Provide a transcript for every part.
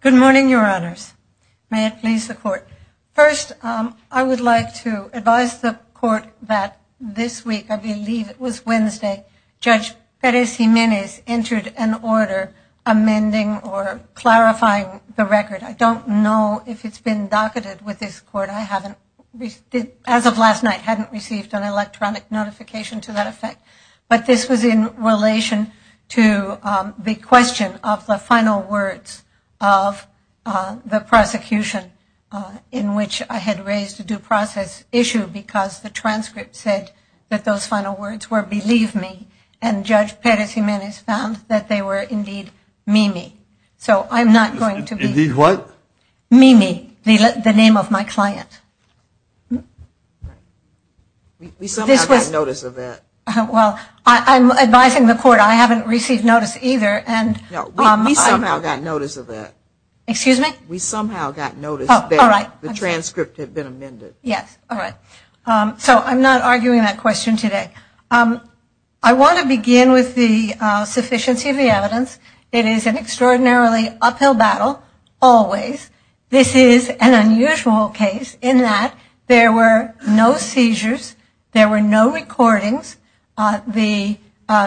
Good morning, your honors. May it please the court. First, I would like to advise the court that this week, I believe it was Wednesday, Judge Perez Jimenez entered an order amending or clarifying the record. I don't know if it's been docketed with this court. I haven't received an electronic notification to that effect, but this was in relation to the question of the final words of the prosecution in which I had raised a due process issue because the transcript said that those final words were believe me and Judge Perez Jimenez found that they were indeed Mimi. Mimi, the name of my client. We somehow got notice of that. Well, I'm advising the court, I haven't received notice either. We somehow got notice of that. Excuse me? We somehow got notice that the transcript had been amended. Yes, all right. So I'm not It is an extraordinarily uphill battle, always. This is an unusual case in that there were no seizures, there were no recordings.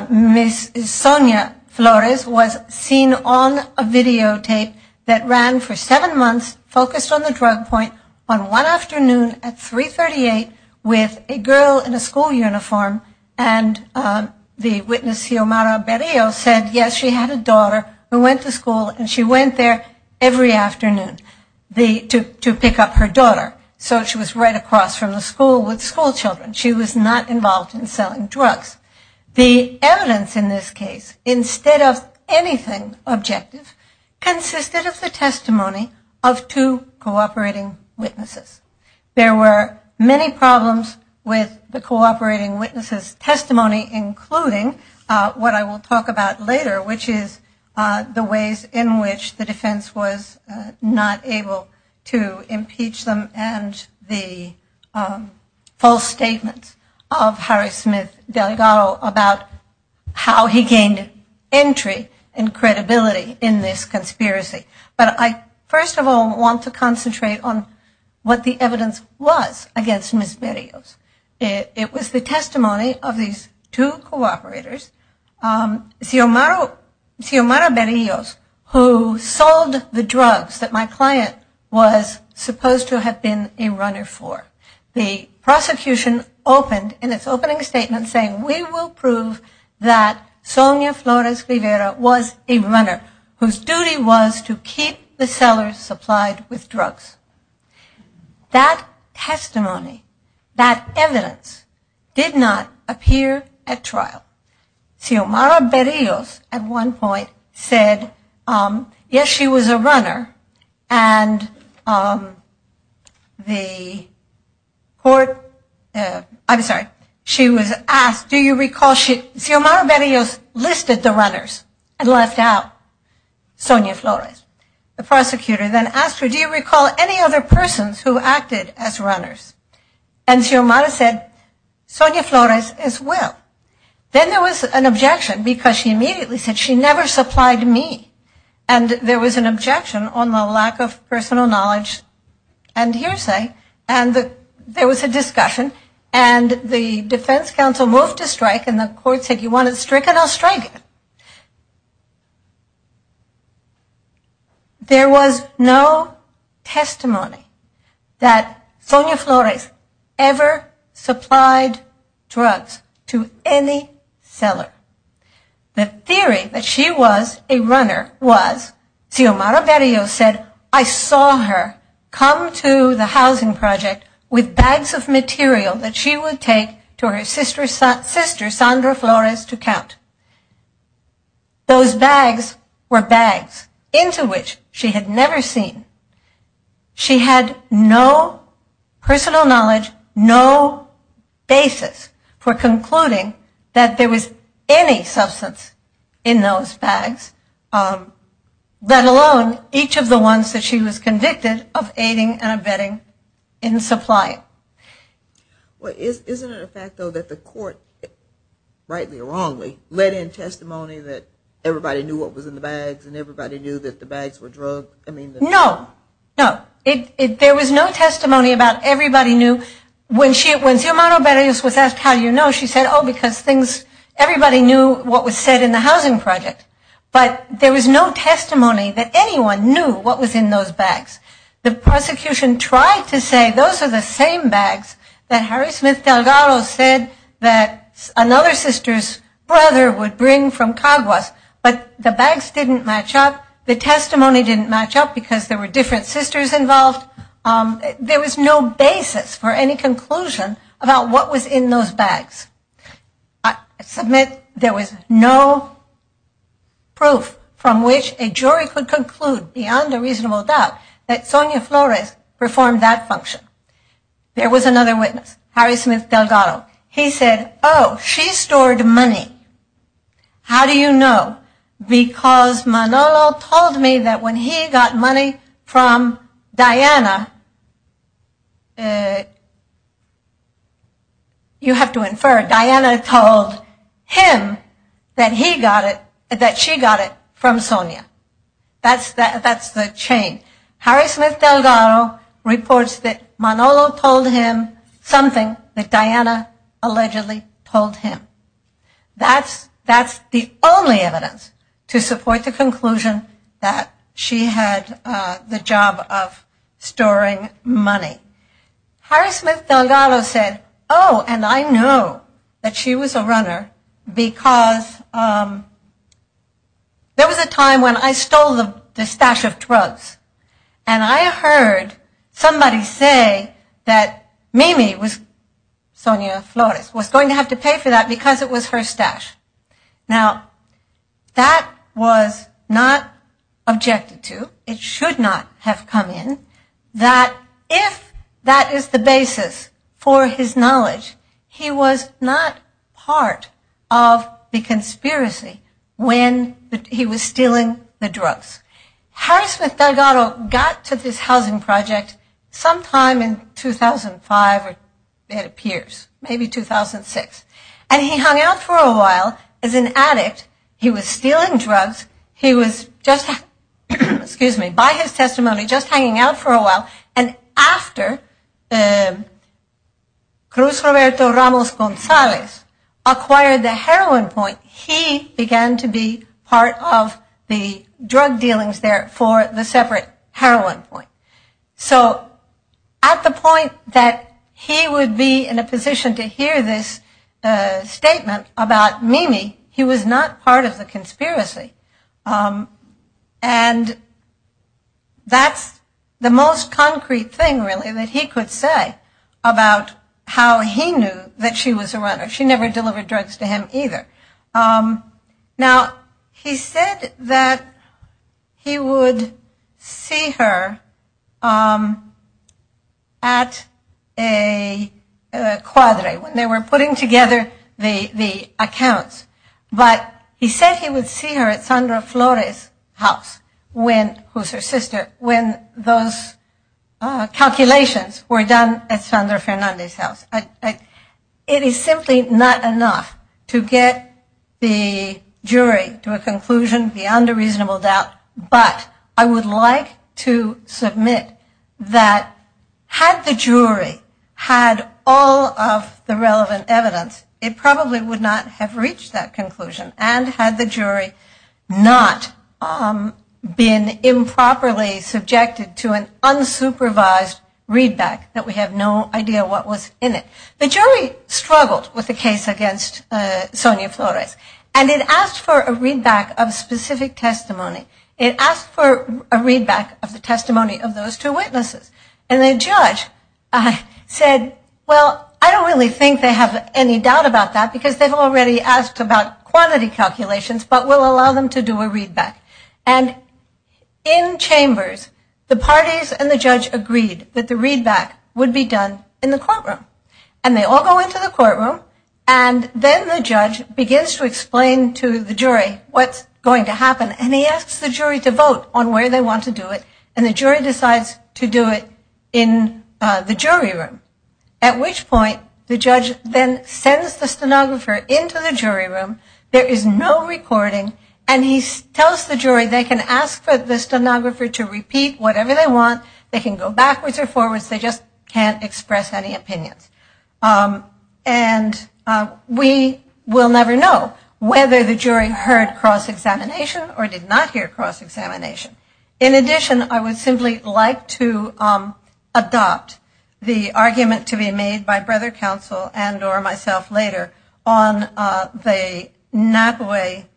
Ms. Sonia Flores was seen on a videotape that ran for seven months, focused on the drug point, on one afternoon at 3.38 with a girl in a school uniform. And the witness, Xiomara Berrio, said, yes, she had a daughter who went to school and she went there every afternoon to pick up her daughter. So she was right across from the school with school children. She was not involved in selling drugs. The evidence in this case, instead of anything objective, consisted of the testimony of two cooperating witnesses. There were many problems with the cooperating witnesses' testimony, including what I will talk about later, which is the ways in which the defense was not able to impeach them and the false statements of Harry Smith Delgado about how he gained entry and credibility in this conspiracy. But I first of all want to concentrate on what the evidence was against Ms. Berrio. It was the testimony of these two cooperators, Xiomara Berrio, who sold the drugs that my client was supposed to have been a runner for. The prosecution opened in its opening statement saying, we will prove that Sonia Flores Rivera was a runner, whose duty was to keep the sellers supplied with drugs. That testimony, that evidence, did not appear at trial. Xiomara Berrio, at one point, said, yes, she was a runner, and the court, I'm sorry, she was asked, do you recall, Xiomara Berrio listed the runners and left out Sonia Flores. The prosecutor then asked her, do you recall any other persons who acted as runners? And Xiomara said, Sonia Flores as well. Then there was an objection, because she immediately said, she never supplied me. And there was an objection on my lack of personal knowledge and hearsay. And there was a discussion, and the defense counsel moved to strike, and the court said, you want it stricken, I'll strike it. There was no testimony that Sonia Flores ever supplied drugs to any seller. The theory that she was a runner was, Xiomara Berrio said, I saw her come to the housing project with bags of material that she would take to her sister, Sandra Flores, to count. Those bags were bags into which she had never seen. She had no personal knowledge, no basis for concluding that there was any substance in those bags, let alone each of the ones that she was convicted of aiding and abetting in the supply. Well, isn't it a fact, though, that the court, rightly or wrongly, let in testimony that everybody knew what was in the bags, and everybody knew that the bags were drugs? No, no. There was no testimony about everybody knew. When Xiomara Berrio was asked how you know, she said, oh, because everybody knew what was said in the housing project. But there was no testimony that anyone knew what was in those bags. The prosecution tried to say, those are the same bags that Harry Smith Delgado said that another sister's brother would bring from Caguas. But the bags didn't match up. The testimony didn't match up because there were different sisters involved. There was no basis for any conclusion about what was in those bags. I submit there was no proof from which a jury could conclude beyond a reasonable doubt that Sonia Flores performed that function. There was another witness, Harry Smith Delgado. He said, oh, she stored money. How do you know? Because Manolo told me that when he got money from Diana, you have to infer Diana told him that he got it, that she got it from Sonia. That's the chain. Harry Smith Delgado reports that Manolo told him something that Diana allegedly told him. That's the only evidence to support the conclusion that she had the job of storing money. Harry Smith Delgado said, oh, and I know that she was a runner because there was a time when I stole the stash of drugs. And I heard somebody say that Mimi, Sonia Flores, was going to have to pay for that because it was her stash. Now, that was not objected to. It should not have come in. That if that is the basis for his knowledge, he was not part of the conspiracy when he was stealing the drugs. Harry Smith Delgado got to this housing project sometime in 2005, or it appeared, maybe 2006. And he hung out for a while as an addict. He was stealing drugs. He was, by his testimony, just hanging out for a while. And after Cruz Roberto Ramos Gonzalez acquired the heroin point, he began to be part of the drug dealings there for the separate heroin point. So, at the point that he would be in a position to hear this statement about Mimi, he was not part of the conspiracy. And that's the most concrete thing, really, that he could say about how he knew that she was a runner. She never delivered drugs to him either. Now, he said that he would see her at a quality when they were putting together the accounts. But he said he would see her at Sandra Flores' house, who's her sister, when those calculations were done at Sandra Fernandez' house. It is simply not enough to get the jury to a conclusion beyond a reasonable doubt. But I would like to submit that had the jury had all of the relevant evidence, it probably would not have reached that conclusion. And had the jury not been improperly subjected to an unsupervised readback that we have no idea what was in it. The jury struggled with the case against Sonia Flores. And it asked for a readback of specific testimony. It asked for a readback of the testimony of those two witnesses. And the judge said, well, I don't really think they have any doubt about that because they've already asked about quantity calculations, but we'll allow them to do a readback. And in chambers, the parties and the judge agreed that the readback would be done in the courtroom. And they all go into the courtroom. And then the judge begins to explain to the jury what's going to happen. And he asks the jury to vote on where they want to do it. And the jury decides to do it in the jury room. At which point, the judge then sends the stenographer into the jury room. There is no recording. And he tells the jury they can ask the stenographer to repeat whatever they want. They can go backwards or forwards. They just can't express any opinions. And we will never know whether the jury heard cross-examination or did not hear cross-examination. In addition, I would simply like to adopt the argument to be made by Brother Counsel and or myself later on the Napa Way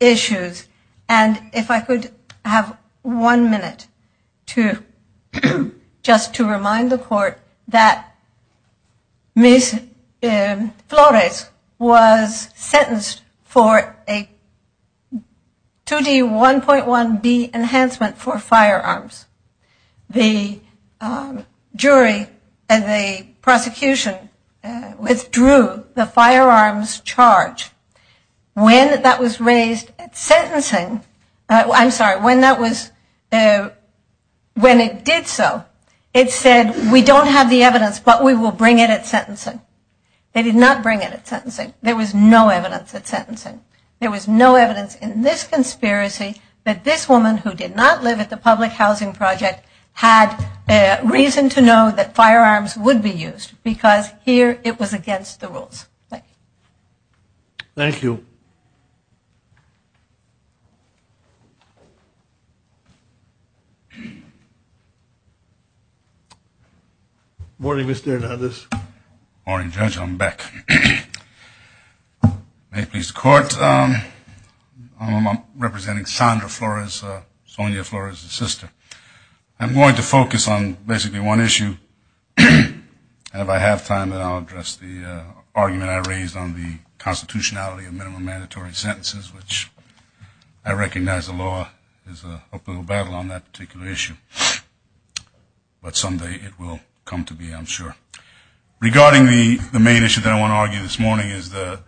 issues. And if I could have one minute just to remind the court that Ms. Flores was sentenced for a 2D1.1B enhancement for firearms. The jury and the prosecution withdrew the firearms charge. When it did so, it said, we don't have the evidence, but we will bring it at sentencing. They did not bring it at sentencing. There was no evidence at sentencing. There was no evidence in this conspiracy that this woman who did not live at the public housing project had reason to know that firearms would be used. Because here, it was against the rules. Thank you. Morning, Mr. Hernandez. Morning, Judge. I'm back. May it please the court. I'm representing Chandra Flores, Sonia Flores's sister. I'm going to focus on basically one issue. And if I have time, I'll address the argument I raised on the constitutionality of minimum mandatory sentences, which I recognize the law is a battle on that particular issue. But someday it will come to be, I'm sure. Regarding the main issue that I want to argue this morning is the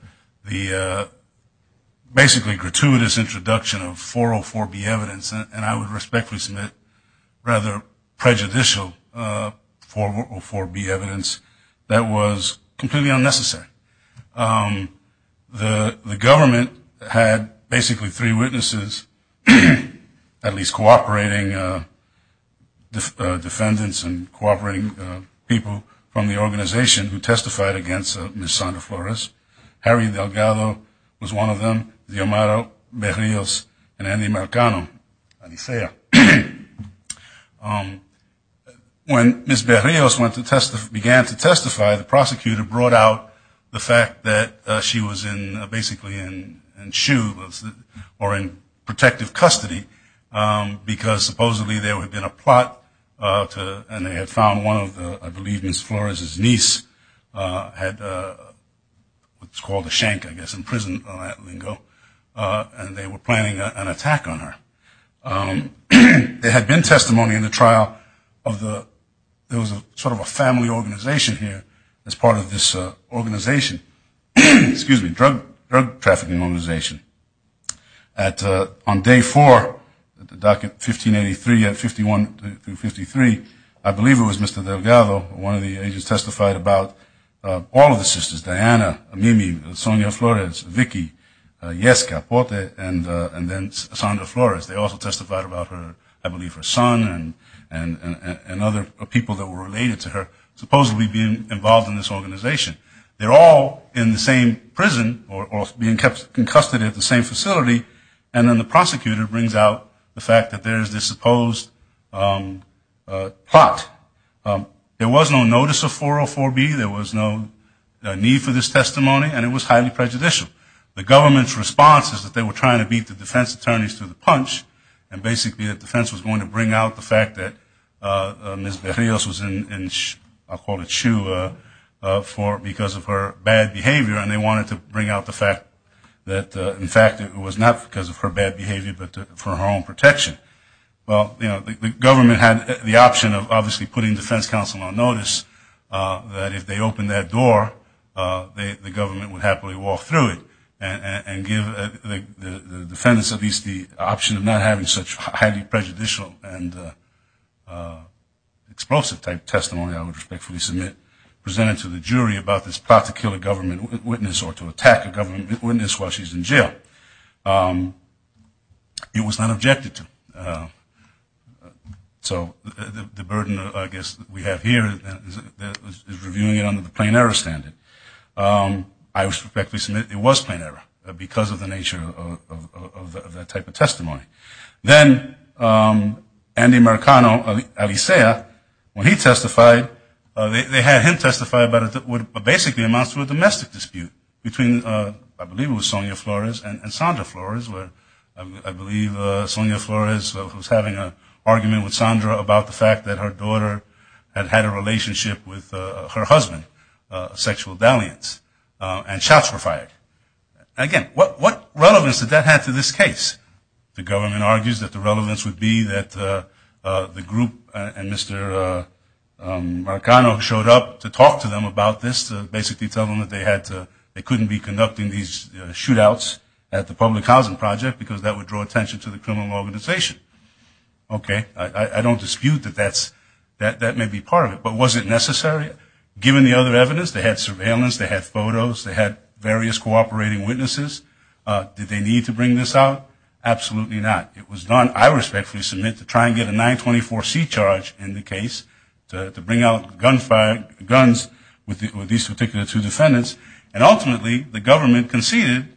basically gratuitous introduction of 404B evidence, and I would respectfully submit rather prejudicial 404B evidence that was completely unnecessary. The government had basically three witnesses, at least cooperating defendants and cooperating people from the organization who testified against Ms. Chandra Flores. Harry Delgado was one of them, Guillermo Berrios, and Andy Mercado. When Ms. Berrios began to testify, the prosecutor brought out the fact that she was basically in shoe, or in protective custody, because supposedly there had been a plot, and they had found one of the, I believe Ms. Flores's niece, had what's called a shank, I guess, in prison for that lingo, and they were planning an attack on her. There had been testimony in the trial of the, there was sort of a family organization here, as part of this organization, excuse me, drug trafficking organization. On day four, at the docket 1583 and 51 through 53, I believe it was Mr. Delgado, one of the agents testified about all of the sisters, Diana, Mimi, Sonia Flores, Vicky, Jessica, Pote, and then Chandra Flores. They also testified about her, I believe her son, and other people that were related to her, supposedly being involved in this organization. They're all in the same prison, or being kept in custody at the same facility, and then the prosecutor brings out the fact that there's this supposed plot. There was no notice of 404B, there was no need for this testimony, and it was highly prejudicial. The government's response is that they were trying to beat the defense attorneys to the punch, and basically the defense was going to bring out the fact that Ms. Berrios was in, I'll quote, a shoe, because of her bad behavior, and they wanted to bring out the fact that, in fact, it was not because of her bad behavior, but for her own protection. Well, you know, the government had the option of obviously putting defense counsel on notice, that if they opened that door, the government would happily walk through it, and give the defendants at least the option of not having such highly prejudicial and explosive type testimony, I would respectfully submit, presented to the jury about this plot to kill a government witness, or to attack a government witness while she's in jail. It was not objected to. So the burden, I guess, that we have here is reviewing it under the plain error standard. I respectfully submit it was plain error, because of the nature of that type of testimony. Then, Andy Marcano, Alicia, when he testified, they had him testify about what basically amounts to a domestic dispute between, I believe it was Sonia Flores and Sandra Flores, I believe Sonia Flores was having an argument with Sandra about the fact that her daughter had had a relationship with her husband, a sexual dalliance, and shots were fired. Again, what relevance did that have to this case? The government argues that the relevance would be that the group, and Mr. Marcano showed up to talk to them about this, to basically tell them that they couldn't be conducting these shootouts at the public housing project, because that would draw attention to the criminal organization. Okay, I don't dispute that that may be part of it, but was it necessary? Given the other evidence, they had surveillance, they had photos, they had various cooperating witnesses, did they need to bring this out? Absolutely not. It was done, I respectfully submit, to try and get a 924C charge in the case to bring out guns with these particular two defendants, and ultimately the government conceded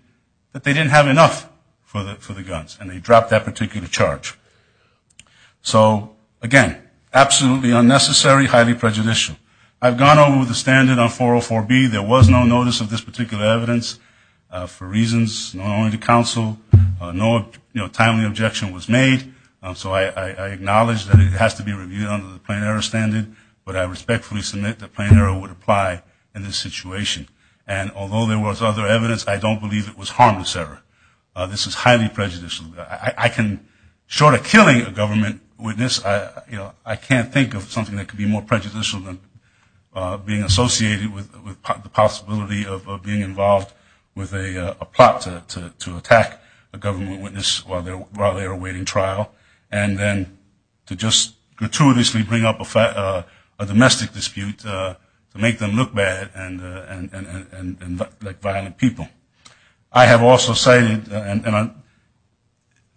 that they didn't have enough for the guns, and they dropped that particular charge. So, again, absolutely unnecessary, highly prejudicial. I've gone over with the standard on 404B, there was no notice of this particular evidence, for reasons known only to counsel, no timely objection was made, so I acknowledge that it has to be reviewed under the plain error standard, but I respectfully submit that plain error would apply in this situation. And although there was other evidence, I don't believe it was harmless error. This is highly prejudicial. Short of killing a government witness, I can't think of something that could be more prejudicial than being associated with the possibility of being involved with a plot to attack a government witness while they are awaiting trial, and then to just gratuitously bring up a domestic dispute to make them look bad and look like violent people. I have also cited, and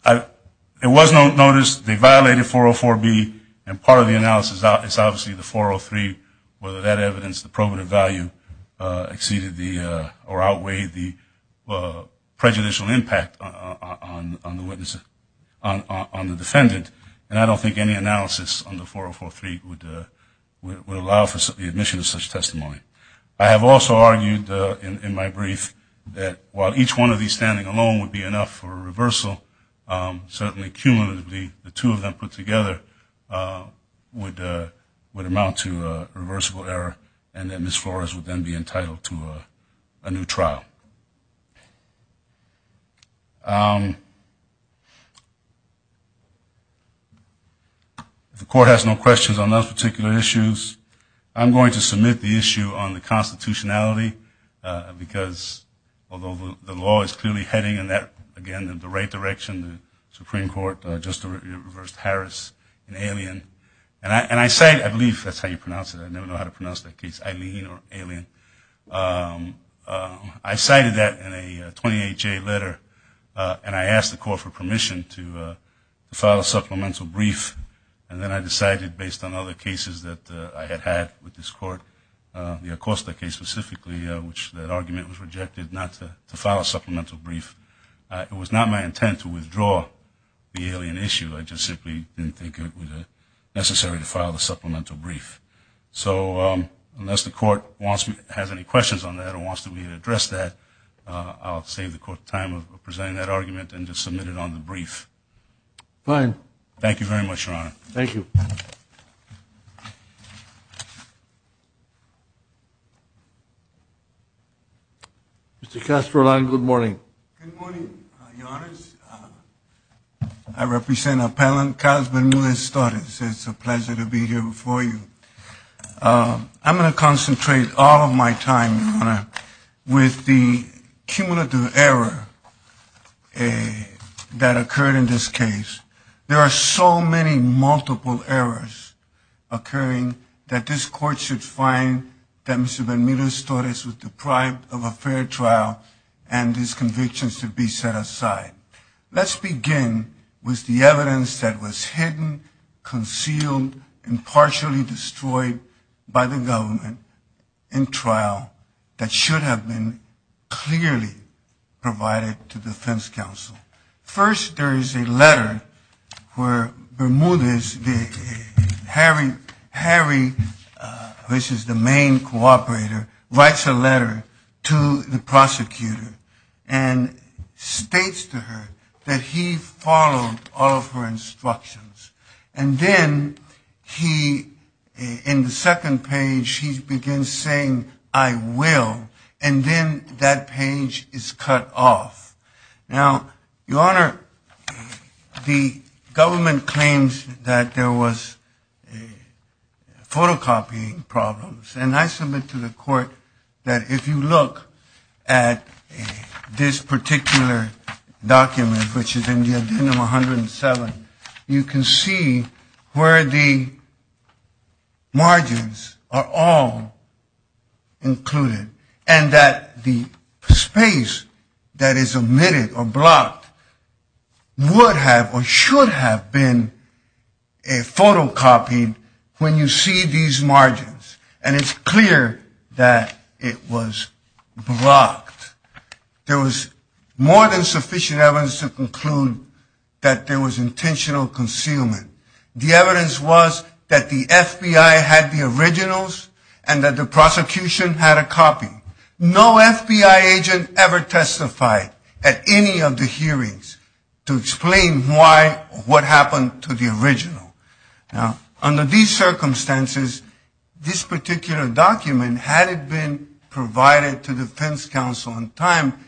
there was no notice, they violated 404B, and part of the analysis is obviously the 403, whether that evidence, the probative value exceeded or outweighed the prejudicial impact on the defendant, and I don't think any analysis under 404B would allow for the admission of such testimony. I have also argued in my brief that while each one of these standing alone would be enough for a reversal, certainly cumulatively the two of them put together would amount to a reversible error, and then Ms. Flores would then be entitled to a new trial. The Court has no questions on those particular issues. I'm going to submit the issue on the constitutionality, because although the law is clearly heading in that, again, the right direction, the Supreme Court just reversed Harris in Alien, and I cite, I believe that's how you pronounce it, I never know how to pronounce that case, Alien. I cited that in a 28-J letter, and I asked the Court for permission to file a supplemental brief, and then I decided based on other cases that I had had with this Court, the Acosta case specifically, which that argument was rejected not to file a supplemental brief. It was not my intent to withdraw the Alien issue. I just simply didn't think it was necessary to file a supplemental brief. So unless the Court has any questions on that or wants to address that, I'll save the Court time of presenting that argument and just submit it on the brief. Fine. Thank you very much, Your Honor. Thank you. Mr. Kasperlein, good morning. Good morning, Your Honor. I represent Appellant Kasperlein Stortitz. It's a pleasure to be here before you. I'm going to concentrate all of my time, Your Honor, with the cumulative error that occurred in this case. There are so many multiple errors occurring that this Court should find that Mr. Benitez-Stortitz was deprived of a fair trial and his convictions should be set aside. Let's begin with the evidence that was hidden, concealed, and partially destroyed by the government in trial that should have been clearly provided to the defense counsel. First, there is a letter where Bermudez, Harry, which is the main cooperator, writes a letter to the prosecutor and states to her that he followed all of her instructions. And then he, in the second page, he begins saying, I will, and then that page is cut off. Now, Your Honor, the government claims that there was photocopying problems, and I submit to the Court that if you look at this particular document, which is in the agenda 107, you can see where the margins are all included, and that the space that is omitted or blocked would have or should have been photocopied when you see these margins. And it's clear that it was blocked. There was more than sufficient evidence to conclude that there was intentional concealment. The evidence was that the FBI had the originals and that the prosecution had a copy. No FBI agent ever testified at any of the hearings to explain why or what happened to the original. Now, under these circumstances, this particular document, had it been provided to the defense counsel on time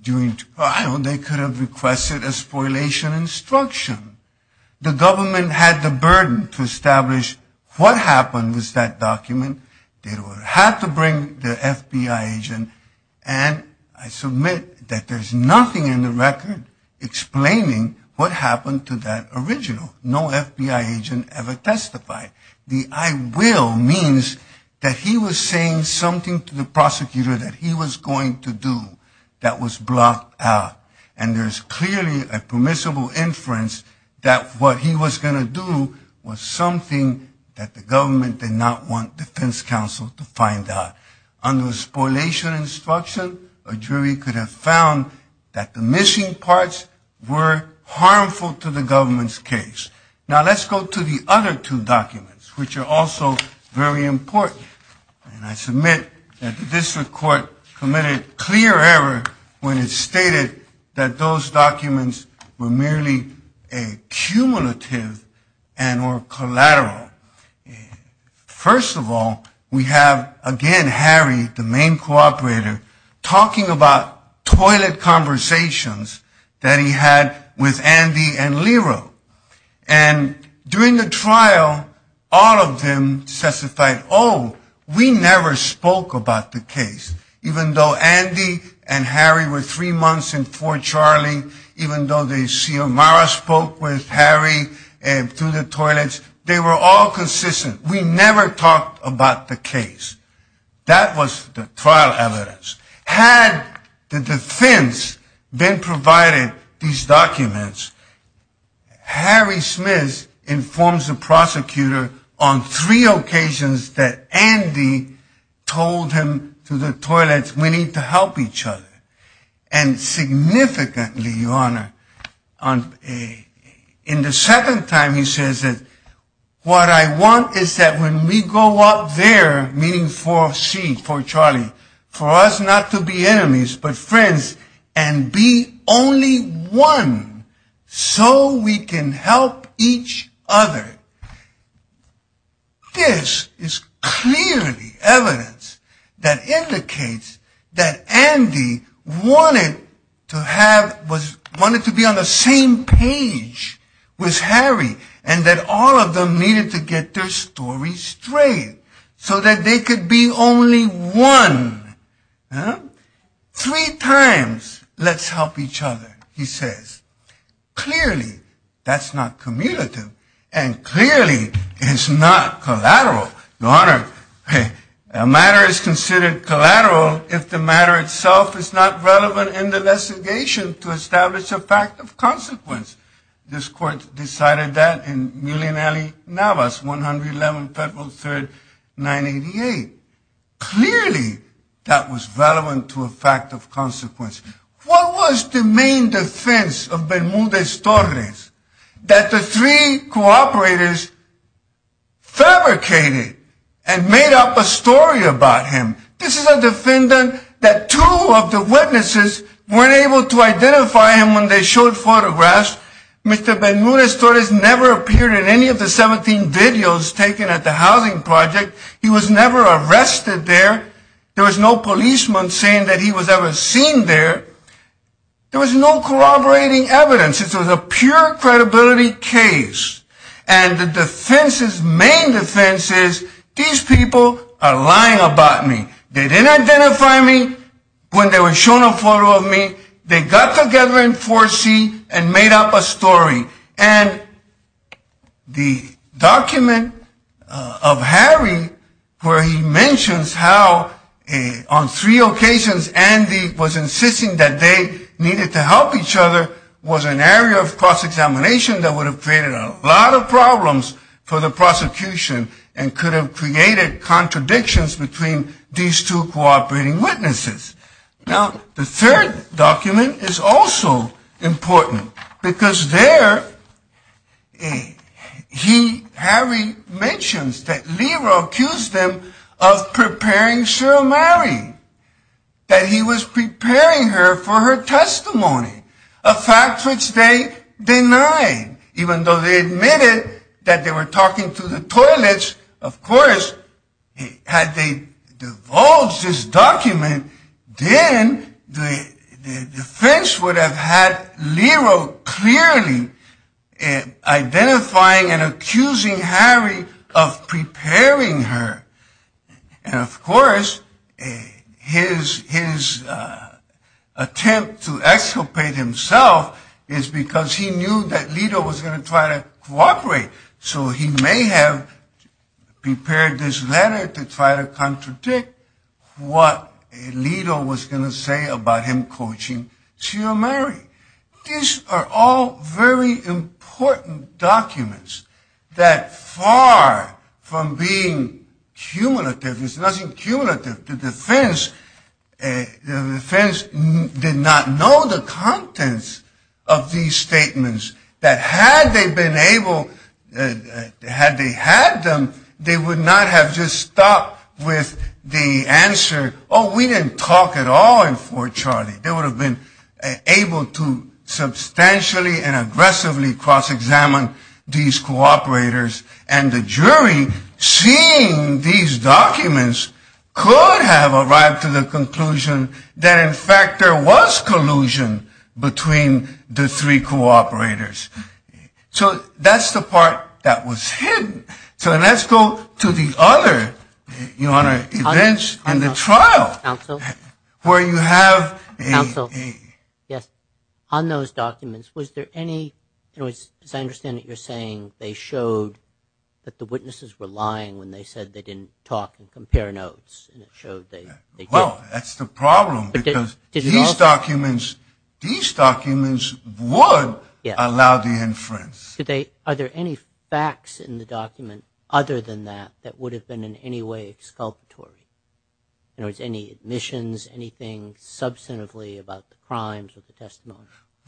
during trial, they could have requested a spoliation instruction. The government had the burden to establish what happened with that document. They would have had to bring the FBI agent, and I submit that there's nothing in the record explaining what happened to that original. No FBI agent ever testified. The I will means that he was saying something to the prosecutor that he was going to do that was blocked out, and there's clearly a permissible inference that what he was going to do was something that the government did not want defense counsel to find out. Under the spoliation instruction, a jury could have found that the missing parts were harmful to the government's case. Now, let's go to the other two documents, which are also very important. I submit that the district court committed clear error when it stated that those documents were merely a cumulative and were collateral. First of all, we have, again, Harry, the main cooperator, talking about toilet conversations that he had with Andy and Lira, and during the trial, all of them testified, oh, we never spoke about the case. Even though Andy and Harry were three months in Fort Charlie, even though the CMR spoke with Harry through the toilets, they were all consistent. We never talked about the case. That was the trial evidence. Had the defense then provided these documents, Harry Smith informs the prosecutor on three occasions that Andy told him through the toilets, we need to help each other, and significantly, Your Honor, in the second time he says that what I want is that when we go out there, meaning Fort C, Fort Charlie, for us not to be enemies but friends and be only one so we can help each other. This is clearly evidence that indicates that Andy wanted to be on the same page with Harry and that all of them needed to get their story straight so that they could be only one. Three times, let's help each other, he says. Clearly, that's not cumulative, and clearly, it is not collateral. Your Honor, a matter is considered collateral if the matter itself is not relevant in the investigation to establish a fact of consequence. This court decided that in Millionare Navas, 111 February 3, 1988. Clearly, that was relevant to a fact of consequence. What was the main defense of Bermudez-Torres? That the three cooperators fabricated and made up a story about him. This is a defendant that two of the witnesses weren't able to identify him when they showed photographs. Mr. Bermudez-Torres never appeared in any of the 17 videos taken at the housing project. He was never arrested there. There was no policeman saying that he was ever seen there. There was no corroborating evidence. This was a pure credibility case. And the defense's main defense is, these people are lying about me. They didn't identify me when they were showing a photo of me. They got together in 4C and made up a story. The document of Harry where he mentions how on three occasions Andy was insisting that they needed to help each other was an area of cross-examination that would have created a lot of problems for the prosecution and could have created contradictions between these two cooperating witnesses. The third document is also important because there Harry mentions that Leroy accused them of preparing Cheryl Mowry, that he was preparing her for her testimony, a fact which they denied. Even though they admitted that they were talking through the toilets, of course, had they divulged this document, then the defense would have had Leroy clearly identifying and accusing Harry of preparing her. And, of course, his attempt to exculpate himself is because he knew that Leroy was going to try to cooperate, so he may have prepared this letter to try to contradict what Alito was going to say about him coaching Cheryl Mowry. These are all very important documents that far from being cumulative, there's nothing cumulative, the defense did not know the contents of these statements, that had they had them, they would not have just stopped with the answer, oh, we didn't talk at all in Fort Charlie. They would have been able to substantially and aggressively cross-examine these cooperators, and the jury, seeing these documents, could have arrived to the conclusion that, in fact, there was collusion between the three cooperators. So that's the part that was hidden. So let's go to the other events in the trial, where you have a... On those documents, was there any... I understand that you're saying they showed that the witnesses were lying when they said they didn't talk and compare notes. Well, that's the problem, because these documents would allow the inference. Are there any facts in the document other than that, that would have been in any way exculpatory? In other words, any admissions, anything substantively about the crimes or the testimony?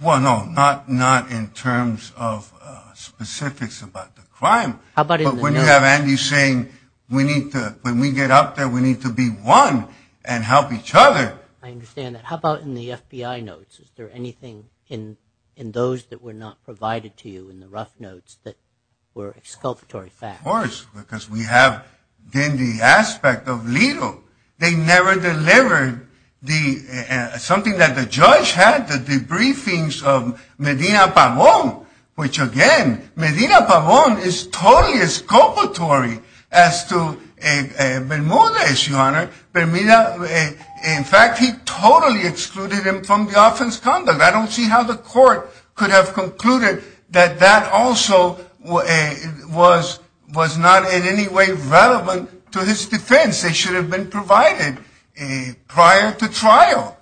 Well, no, not in terms of specifics about the crime. But when you have Andy saying, when we get up there, we need to be one and help each other. I understand that. How about in the FBI notes? Is there anything in those that were not provided to you, in the rough notes, that were exculpatory facts? Of course, because we have been the aspect of legal. They never delivered something that the judge had, the briefings of Medina Pavon, which, again, Medina Pavon is totally exculpatory as to Bermuda, Your Honor. In fact, he totally excluded him from the offense condom. I don't see how the court could have concluded that that also was not in any way relevant to his defense. It should have been provided prior to trial.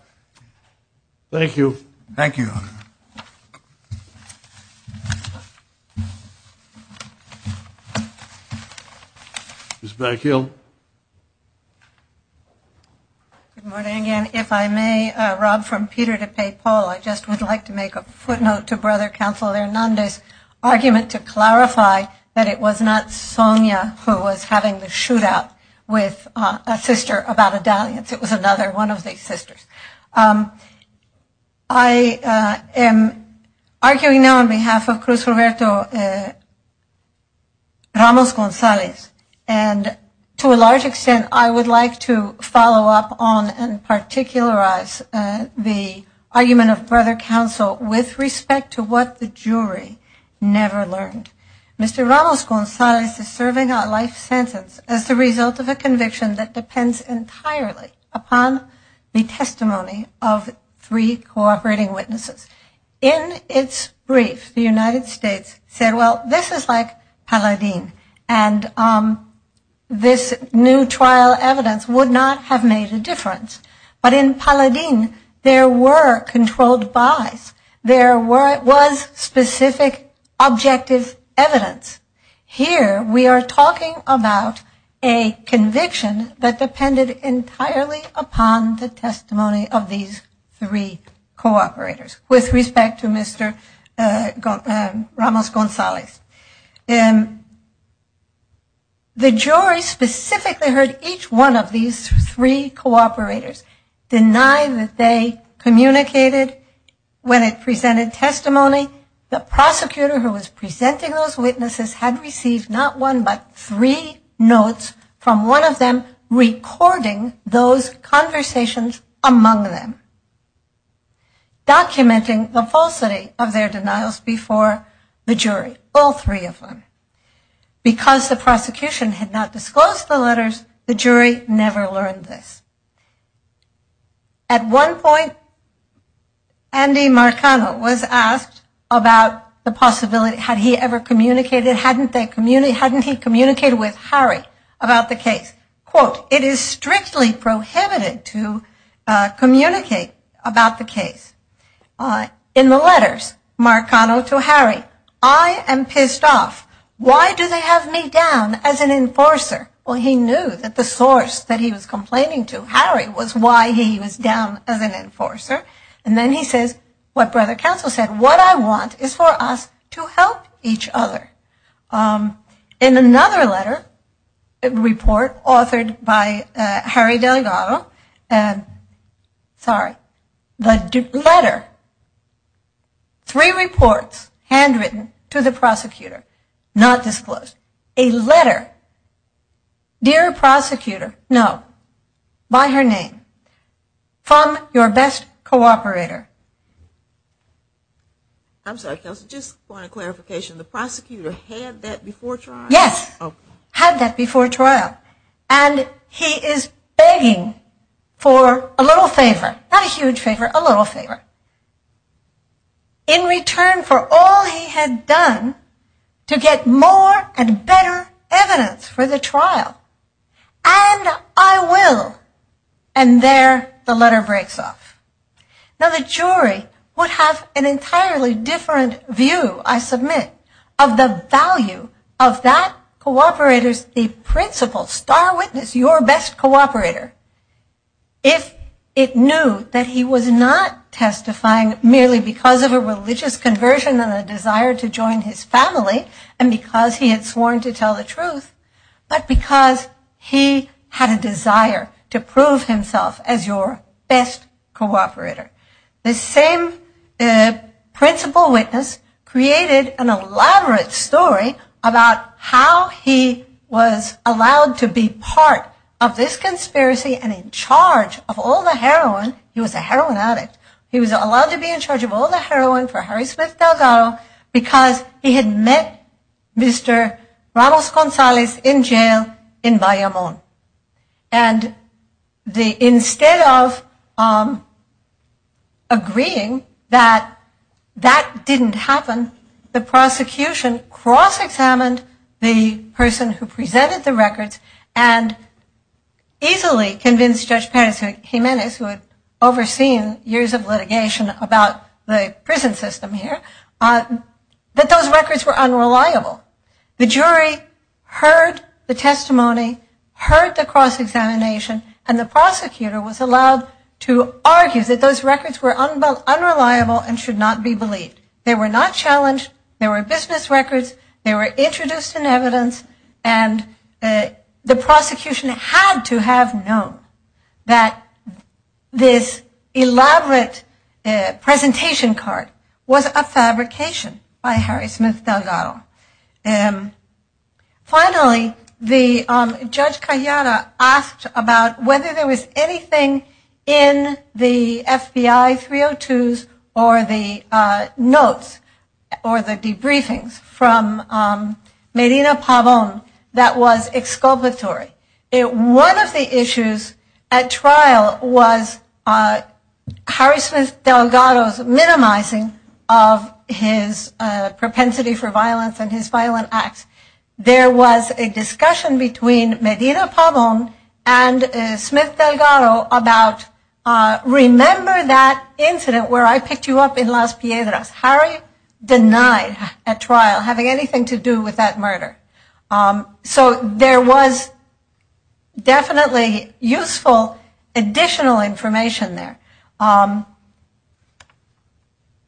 Thank you. Thank you, Your Honor. Thank you. Ms. Blackhill. Good morning again. If I may, Rob from Peter DePay Poll, I just would like to make a footnote to Brother Counsel Hernandez's argument to clarify that it was not Sonia who was having the shootout with a sister about a dalliance. It was another one of these sisters. I am arguing now on behalf of Cruz Roberto Ramos-Gonzalez, and to a large extent, I would like to follow up on and particularize the argument of Brother Counsel with respect to what the jury never learned. Mr. Ramos-Gonzalez is serving a life sentence as a result of a conviction that depends entirely upon the testimony of three cooperating witnesses. In its brief, the United States said, well, this is like Paladine, and this new trial evidence would not have made a difference. But in Paladine, there were controlled buys. There was specific objective evidence. Here, we are talking about a conviction that depended entirely upon the testimony of these three cooperators with respect to Mr. Ramos-Gonzalez. The jury specifically heard each one of these three cooperators deny that they communicated when it presented testimony. Additionally, the prosecutor who was presenting those witnesses had received not one but three notes from one of them recording those conversations among them, documenting the falsity of their denials before the jury, all three of them. Because the prosecution had not disclosed the letters, the jury never learned this. At one point, Andy Marcano was asked about the possibility, had he ever communicated, hadn't he communicated with Harry about the case? Quote, it is strictly prohibited to communicate about the case. In the letters, Marcano to Harry, I am pissed off. Why do they have me down as an enforcer? Well, he knew that the source that he was complaining to, Harry, was why he was down as an enforcer. And then he said, what Brother Counsel said, what I want is for us to help each other. In another letter, a report authored by Harry Delgado, sorry, the letter, three reports handwritten to the prosecutor, not disclosed. A letter, dear prosecutor, no, by her name, from your best cooperator. I'm sorry, Counsel, just for clarification, the prosecutor had that before trial? Yes, had that before trial. And he is begging for a little favor, not a huge favor, a little favor, in return for all he had done to get more and better evidence for the trial. And I will. And there the letter breaks off. Now, the jury would have an entirely different view, I submit, of the value of that cooperator's principle, star witness, your best cooperator, if it knew that he was not testifying merely because of a religious conversion and a desire to join his family, and because he had sworn to tell the truth, but because he had a desire to prove himself as your best cooperator. The same principle witness created an elaborate story about how he was allowed to be part of this conspiracy and in charge of all the heroin, he was a heroin addict, he was allowed to be in charge of all the heroin for Harry Smith Delgado because he had met Mr. Ramos-Gonzalez in jail in Bayamón. And instead of agreeing that that didn't happen, the prosecution cross-examined the person who presented the records and easily convinced Judge Pérez Jiménez, who had overseen years of litigation about the prison system here, that those records were unreliable. The jury heard the testimony, heard the cross-examination, and the prosecutor was allowed to argue that those records were unreliable and should not be believed. They were not challenged, they were business records, they were introduced in evidence, and the prosecution had to have known that this elaborate presentation card was a fabrication by Harry Smith Delgado. Finally, Judge Carriana asked about whether there was anything in the FBI 302s or the notes or the debriefings from Medina Pavón that was exculpatory. One of the issues at trial was Harry Smith Delgado's minimizing of his propensity for violence and his violent acts. There was a discussion between Medina Pavón and Smith Delgado about, remember that incident where I picked you up in Las Piedras. Harry denies at trial having anything to do with that murder. So there was definitely useful additional information there.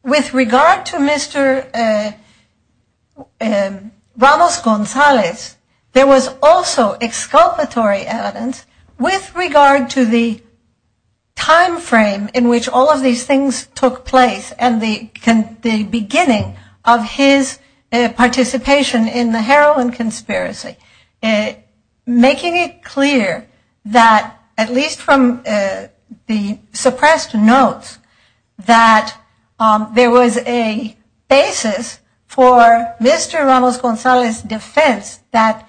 With regard to Mr. Ramos-González, there was also exculpatory evidence with regard to the timeframe in which all of these things took place and the beginning of his participation in the heroin conspiracy, making it clear that, at least from the suppressed notes, that there was a basis for Mr. Ramos-González's defense that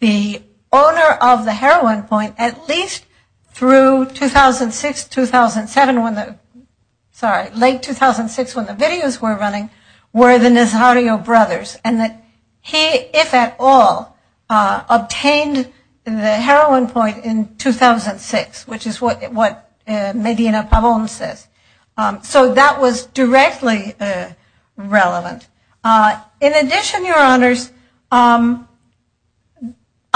the owner of the heroin point, at least through 2006-2007, sorry, late 2006 when the videos were running, were the Nazario brothers. And that he, if at all, obtained the heroin point in 2006, which is what Medina Pavón said. So that was directly relevant. In addition, your honors, I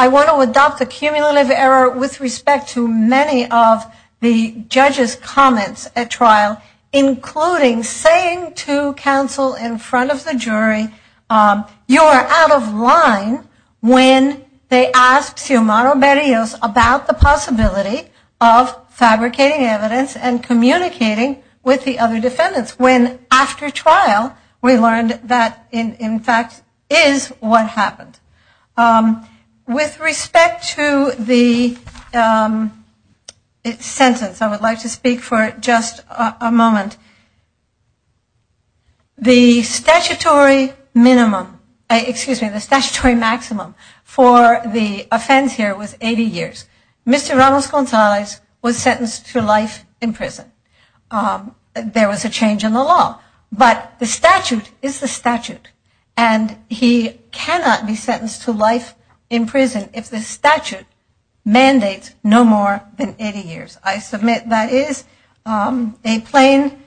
want to adopt the cumulative error with respect to many of the judges' comments at trial, you are out of line when they ask your moral barriers about the possibility of fabricating evidence and communicating with the other defendants, when after trial we learned that, in fact, is what happened. With respect to the sentence, I would like to speak for just a moment. The statutory minimum, excuse me, the statutory maximum for the offense here was 80 years. Mr. Ramos-González was sentenced to life in prison. There was a change in the law, but the statute is the statute and he cannot be sentenced to life in prison if the statute mandates no more than 80 years. I submit that is a plain,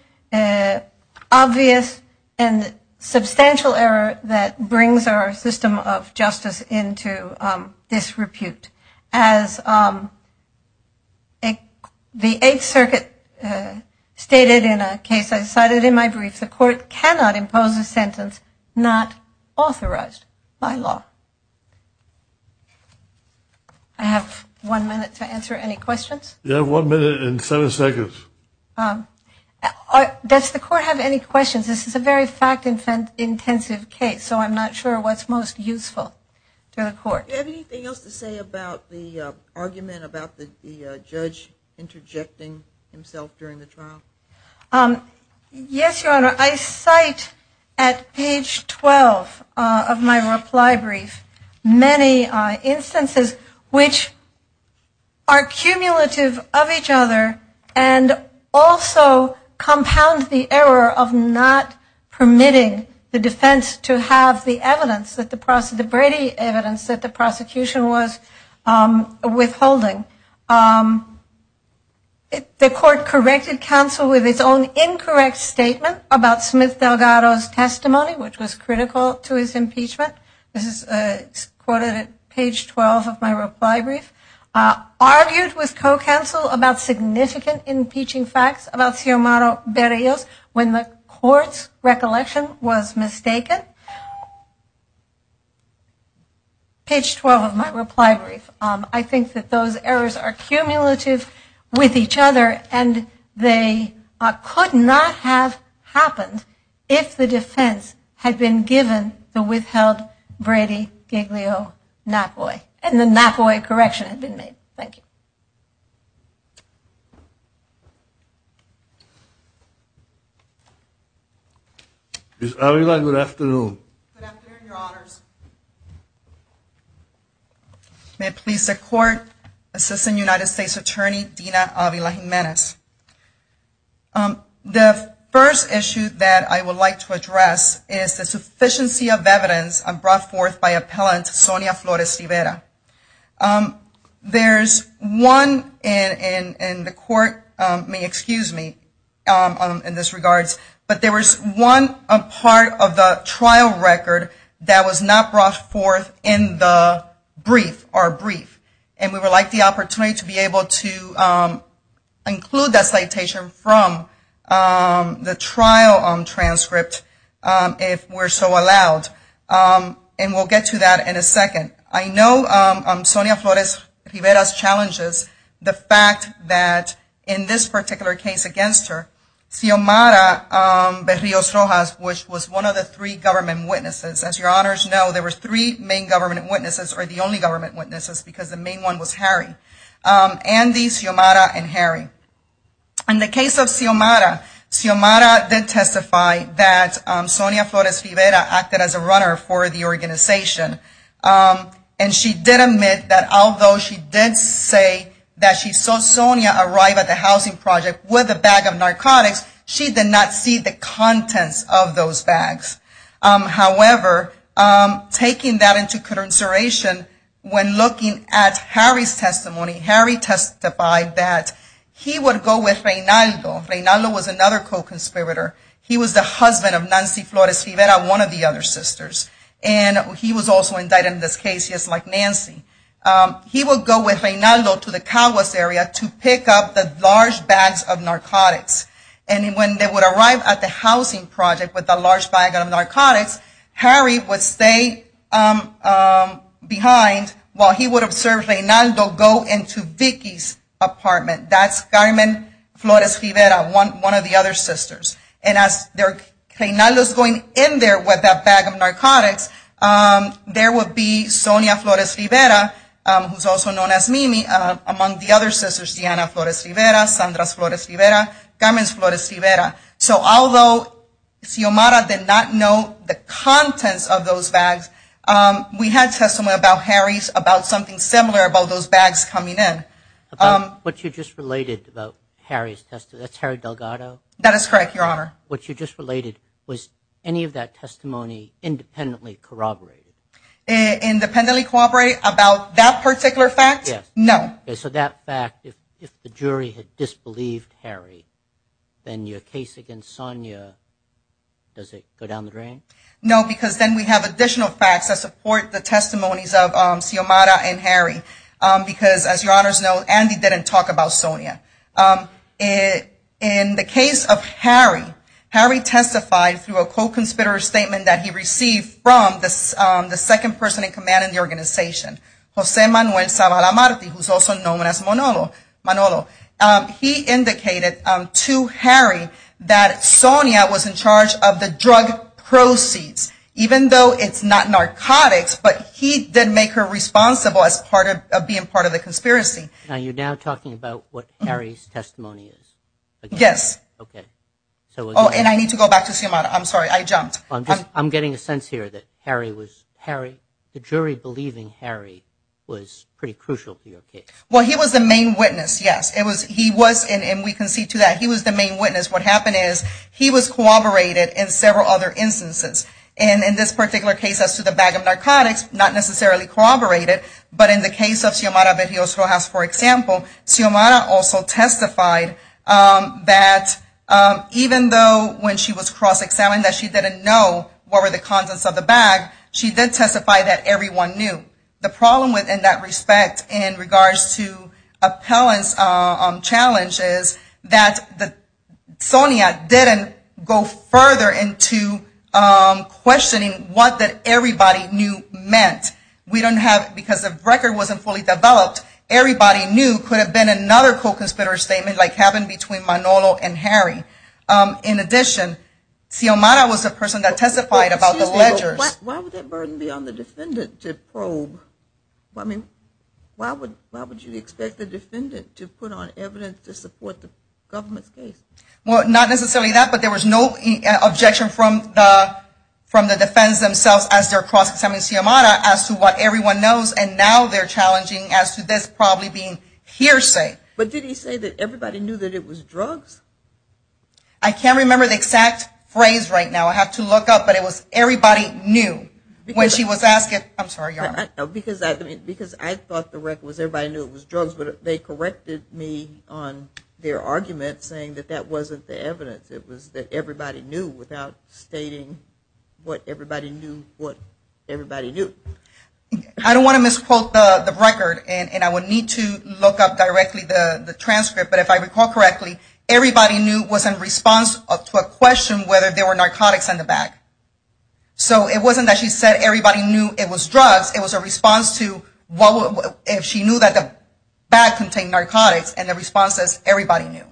obvious, and substantial error that brings our system of justice into disrepute. As the Eighth Circuit stated in a case I cited in my brief, the court cannot impose a sentence not authorized by law. I have one minute to answer any questions. You have one minute and seven seconds. Does the court have any questions? This is a very fact-intensive case, so I'm not sure what's most useful to the court. Do you have anything else to say about the argument about the judge interjecting himself during the trial? Yes, Your Honor. I cite at page 12 of my reply brief many instances which are cumulative of each other and also compound the error of not permitting the defense to have the evidence, the Brady evidence, that the prosecution was withholding. The court corrected counsel with its own incorrect statement about Smith-Delgado's testimony, which was critical to his impeachment. This is quoted at page 12 of my reply brief. Argued with co-counsel about significant impeaching facts about Teomaro Berrios when the court's recollection was mistaken. Page 12 of my reply brief. I think that those errors are cumulative with each other and they could not have happened if the defense had been given the withheld Brady-Giglio-Napoi and the Napoi correction had been made. Thank you. Ms. Avila, good afternoon. Good afternoon, Your Honors. Smith Police Department, Assistant United States Attorney, Dina Avila Jimenez. The first issue that I would like to address is the sufficiency of evidence brought forth by Appellant Sonia Flores-Rivera. There's one, and the court may excuse me in this regards, but there was one part of the trial record that was not brought forth in the brief, our brief, and we would like the opportunity to be able to include that citation from the trial transcript if we're so allowed, and we'll get to that in a second. I know Sonia Flores-Rivera challenges the fact that in this particular case against her, Teomaro Berrios-Rojas was one of the three government witnesses. As Your Honors know, there were three main government witnesses or the only government witnesses because the main one was Harry. Andy, Teomaro, and Harry. In the case of Teomaro, Teomaro did testify that Sonia Flores-Rivera acted as a runner for the organization, and she did admit that although she did say that she saw Sonia arrive at the housing project with a bag of narcotics, she did not see the contents of those bags. However, taking that into consideration, when looking at Harry's testimony, Harry testified that he would go with Reynaldo. Reynaldo was another co-conspirator. He was the husband of Nancy Flores-Rivera, one of the other sisters, and he was also indicted in this case just like Nancy. He would go with Reynaldo to the Calwas area to pick up the large bags of narcotics, and when they would arrive at the housing project with a large bag of narcotics, Harry would stay behind while he would observe Reynaldo go into Vicky's apartment. That's Carmen Flores-Rivera, one of the other sisters. And as Reynaldo's going in there with that bag of narcotics, there would be Sonia Flores-Rivera, who's also known as Mimi, among the other sisters, Diana Flores-Rivera, Sandra Flores-Rivera, Carmen Flores-Rivera. So although Xiomara did not know the contents of those bags, we had testimony about Harry's about something similar about those bags coming in. What you just related about Harry's testimony, that's Harry Delgado? That is correct, Your Honor. What you just related, was any of that testimony independently corroborated? Independently corroborated about that particular fact? Yes. No. So that fact, if the jury had disbelieved Harry, then your case against Sonia, does it go down the drain? No, because then we have additional facts that support the testimonies of Xiomara and Harry. Because, as Your Honors know, Andy didn't talk about Sonia. In the case of Harry, Harry testified through a co-conspirator statement that he received from the second person in command of the organization, Jose Manuel Zavala-Marti, who's also known as Manolo. He indicated to Harry that Sonia was in charge of the drug proceeds, even though it's not narcotics, but he did make her responsible as being part of the conspiracy. Now you're now talking about what Harry's testimony is? Yes. Okay. Oh, and I need to go back to Xiomara. I'm sorry, I jumped. I'm getting a sense here that the jury believing Harry was pretty crucial for your case. Well, he was the main witness, yes. He was, and we can see to that, he was the main witness. What happened is he was corroborated in several other instances. And in this particular case as to the bag of narcotics, not necessarily corroborated, but in the case of Xiomara de Dios Rojas, for example, Xiomara also testified that even though when she was cross-examined that she didn't know what were the contents of the bag, she did testify that everyone knew. The problem with, in that respect, in regards to appellant's challenge is that Sonia didn't go further into questioning what that everybody knew meant. We don't have, because the record wasn't fully developed, everybody knew could have been another co-considerer statement like happened between Manolo and Harry. In addition, Xiomara was the person that testified about the letter. Why would that burden be on the defendant to probe? Why would you expect the defendant to put on evidence to support the government case? Not necessarily that, but there was no objection from the defendants themselves as they're cross-examining Xiomara as to what everyone knows, and now they're challenging as to this probably being hearsay. But did he say that everybody knew that it was drugs? I can't remember the exact phrase right now. I have to look up, but it was everybody knew. When she was asking, I'm sorry. Because I thought the record was everybody knew it was drugs, but they corrected me on their argument saying that that wasn't the evidence. It was that everybody knew without stating what everybody knew what everybody knew. I don't want to misquote the record, and I would need to look up directly the transcript, but if I recall correctly, everybody knew was in response to a question whether there were narcotics in the bag. So it wasn't that she said everybody knew it was drugs. It was a response to if she knew that the bag contained narcotics, and the response is everybody knew.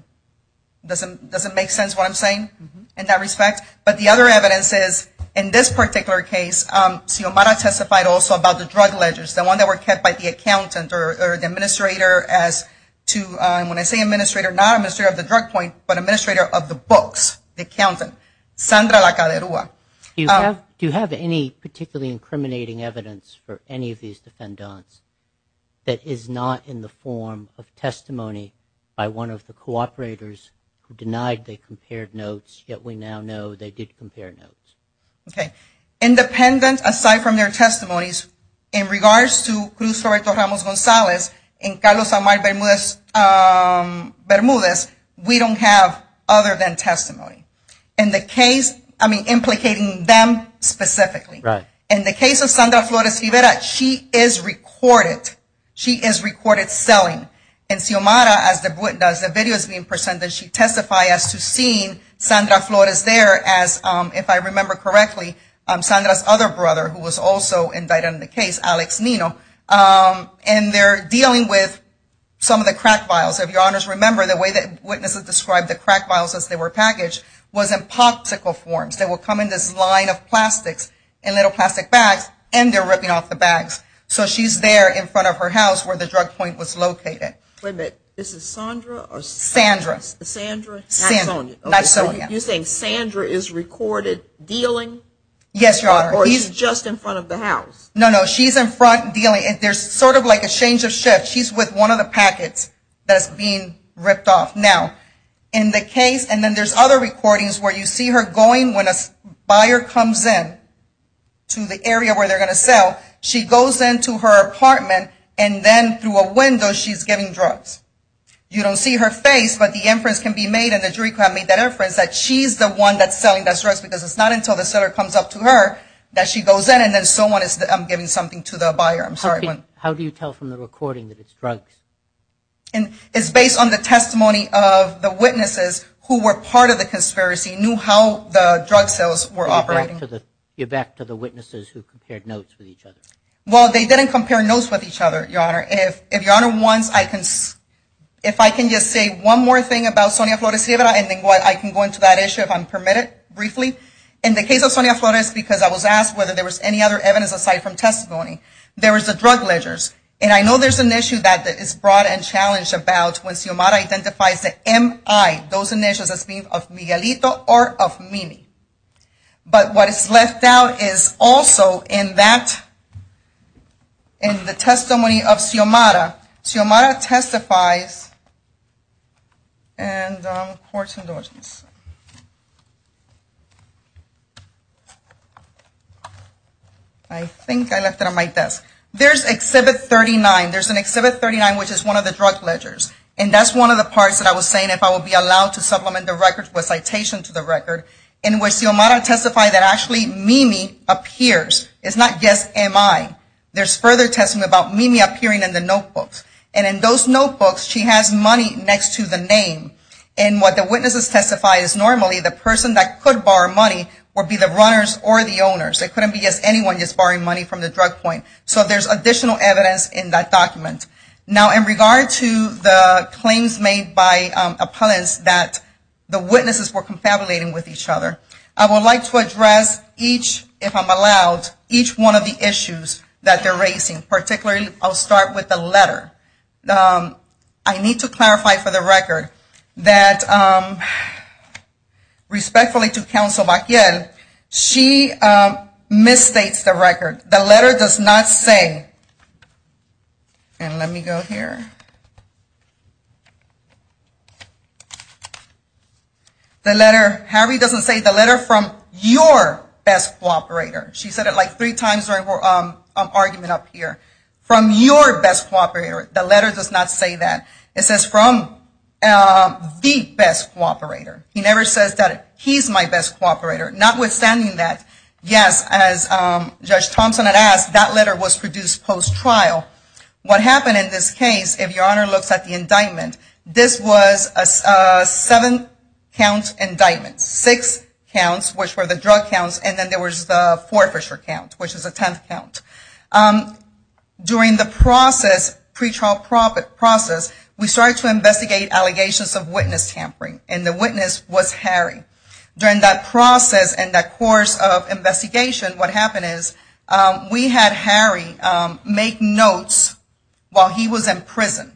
Does it make sense what I'm saying in that respect? But the other evidence is in this particular case, Xiomara testified also about the drug ledgers, the one that were kept by the accountant or the administrator as to, when I say administrator, not administrator of the drug point, but administrator of the books, the accountant, Sandra Lacaderua. Do you have any particularly incriminating evidence for any of these defendants that is not in the form of testimony by one of the cooperators who denied they compared notes, yet we now know they did compare notes? Okay. Independent, aside from their testimonies, in regards to Cruz Roberto Ramos-Gonzalez and Carlos Omar Bermudez, we don't have other than testimony. In the case, I mean implicating them specifically. In the case of Sandra Flores Rivera, she is recorded. She is recorded selling. In Xiomara, as the video is being presented, she testified as to seeing Sandra Flores there as, if I remember correctly, Sandra's other brother, who was also indicted in the case, Alex Nino, and they're dealing with some of the crack vials. If your honors remember, the way that witnesses described the crack vials as they were packaged was in popsicle form. They would come in this line of plastic, in little plastic bags, and they're ripping off the bags. So she's there in front of her house where the drug point was located. Wait a minute. This is Sandra? Sandra. Sandra? You're saying Sandra is recorded dealing? Yes, your honor. Or he's just in front of the house? No, no. She's in front dealing. There's sort of like a change of shift. She's with one of the packets that's being ripped off. Now, in the case, and then there's other recordings where you see her going when a buyer comes in to the area where they're going to sell. She goes into her apartment, and then through a window she's giving drugs. You don't see her face, but the inference can be made, and the jury could have made that inference that she's the one that's selling those drugs, because it's not until the seller comes up to her that she goes in, and then someone is giving something to the buyer. I'm sorry. How do you tell from the recording that it's drugs? It's based on the testimony of the witnesses who were part of the conspiracy, knew how the drug sales were operating. You're back to the witnesses who compared notes with each other. Well, they didn't compare notes with each other, your honor. If your honor wants, if I can just say one more thing about Sonia Flores Rivera, and then I can go into that issue if I'm permitted briefly. In the case of Sonia Flores, because I was asked whether there was any other evidence aside from testimony, there was the drug ledgers, and I know there's an issue that is brought and challenged about when Xiomara identifies the MI, those initiatives of Miguelito or of Mimi. But what is left out is also in that, in the testimony of Xiomara, Xiomara testifies and reports indulgences. I think I left it on my desk. There's Exhibit 39. There's an Exhibit 39, which is one of the drug ledgers, and that's one of the parts that I was saying if I would be allowed to supplement the record with a citation to the record, in which Xiomara testified that actually Mimi appears. It's not just MI. There's further testimony about Mimi appearing in the notebooks, and in those notebooks, she has money next to the name, and what the witnesses testify is normally the person that could borrow money would be the runners or the owners. It couldn't be just anyone just borrowing money from the drug point. So there's additional evidence in that document. Now, in regard to the claims made by opponents that the witnesses were confabulating with each other, I would like to address each, if I'm allowed, each one of the issues that they're raising, particularly I'll start with the letter. I need to clarify for the record that, respectfully to Councilor Baquiel, she misstates the record. The letter does not say, and let me go here. The letter, Harry doesn't say the letter from your best law operator. She said it like three times during her argument up here. From your best law operator. The letter does not say that. It says from the best law operator. He never says that he's my best law operator. Notwithstanding that, yes, as Judge Thompson had asked, that letter was produced post-trial. What happened in this case, if Your Honor looks at the indictment, this was a seven-count indictment, six counts, which were the drug counts, and then there was the forfeiture counts, which was a tenth count. During the process, pretrial process, we started to investigate allegations of witness tampering, and the witness was Harry. During that process and that course of investigation, what happened is we had Harry make notes while he was in prison,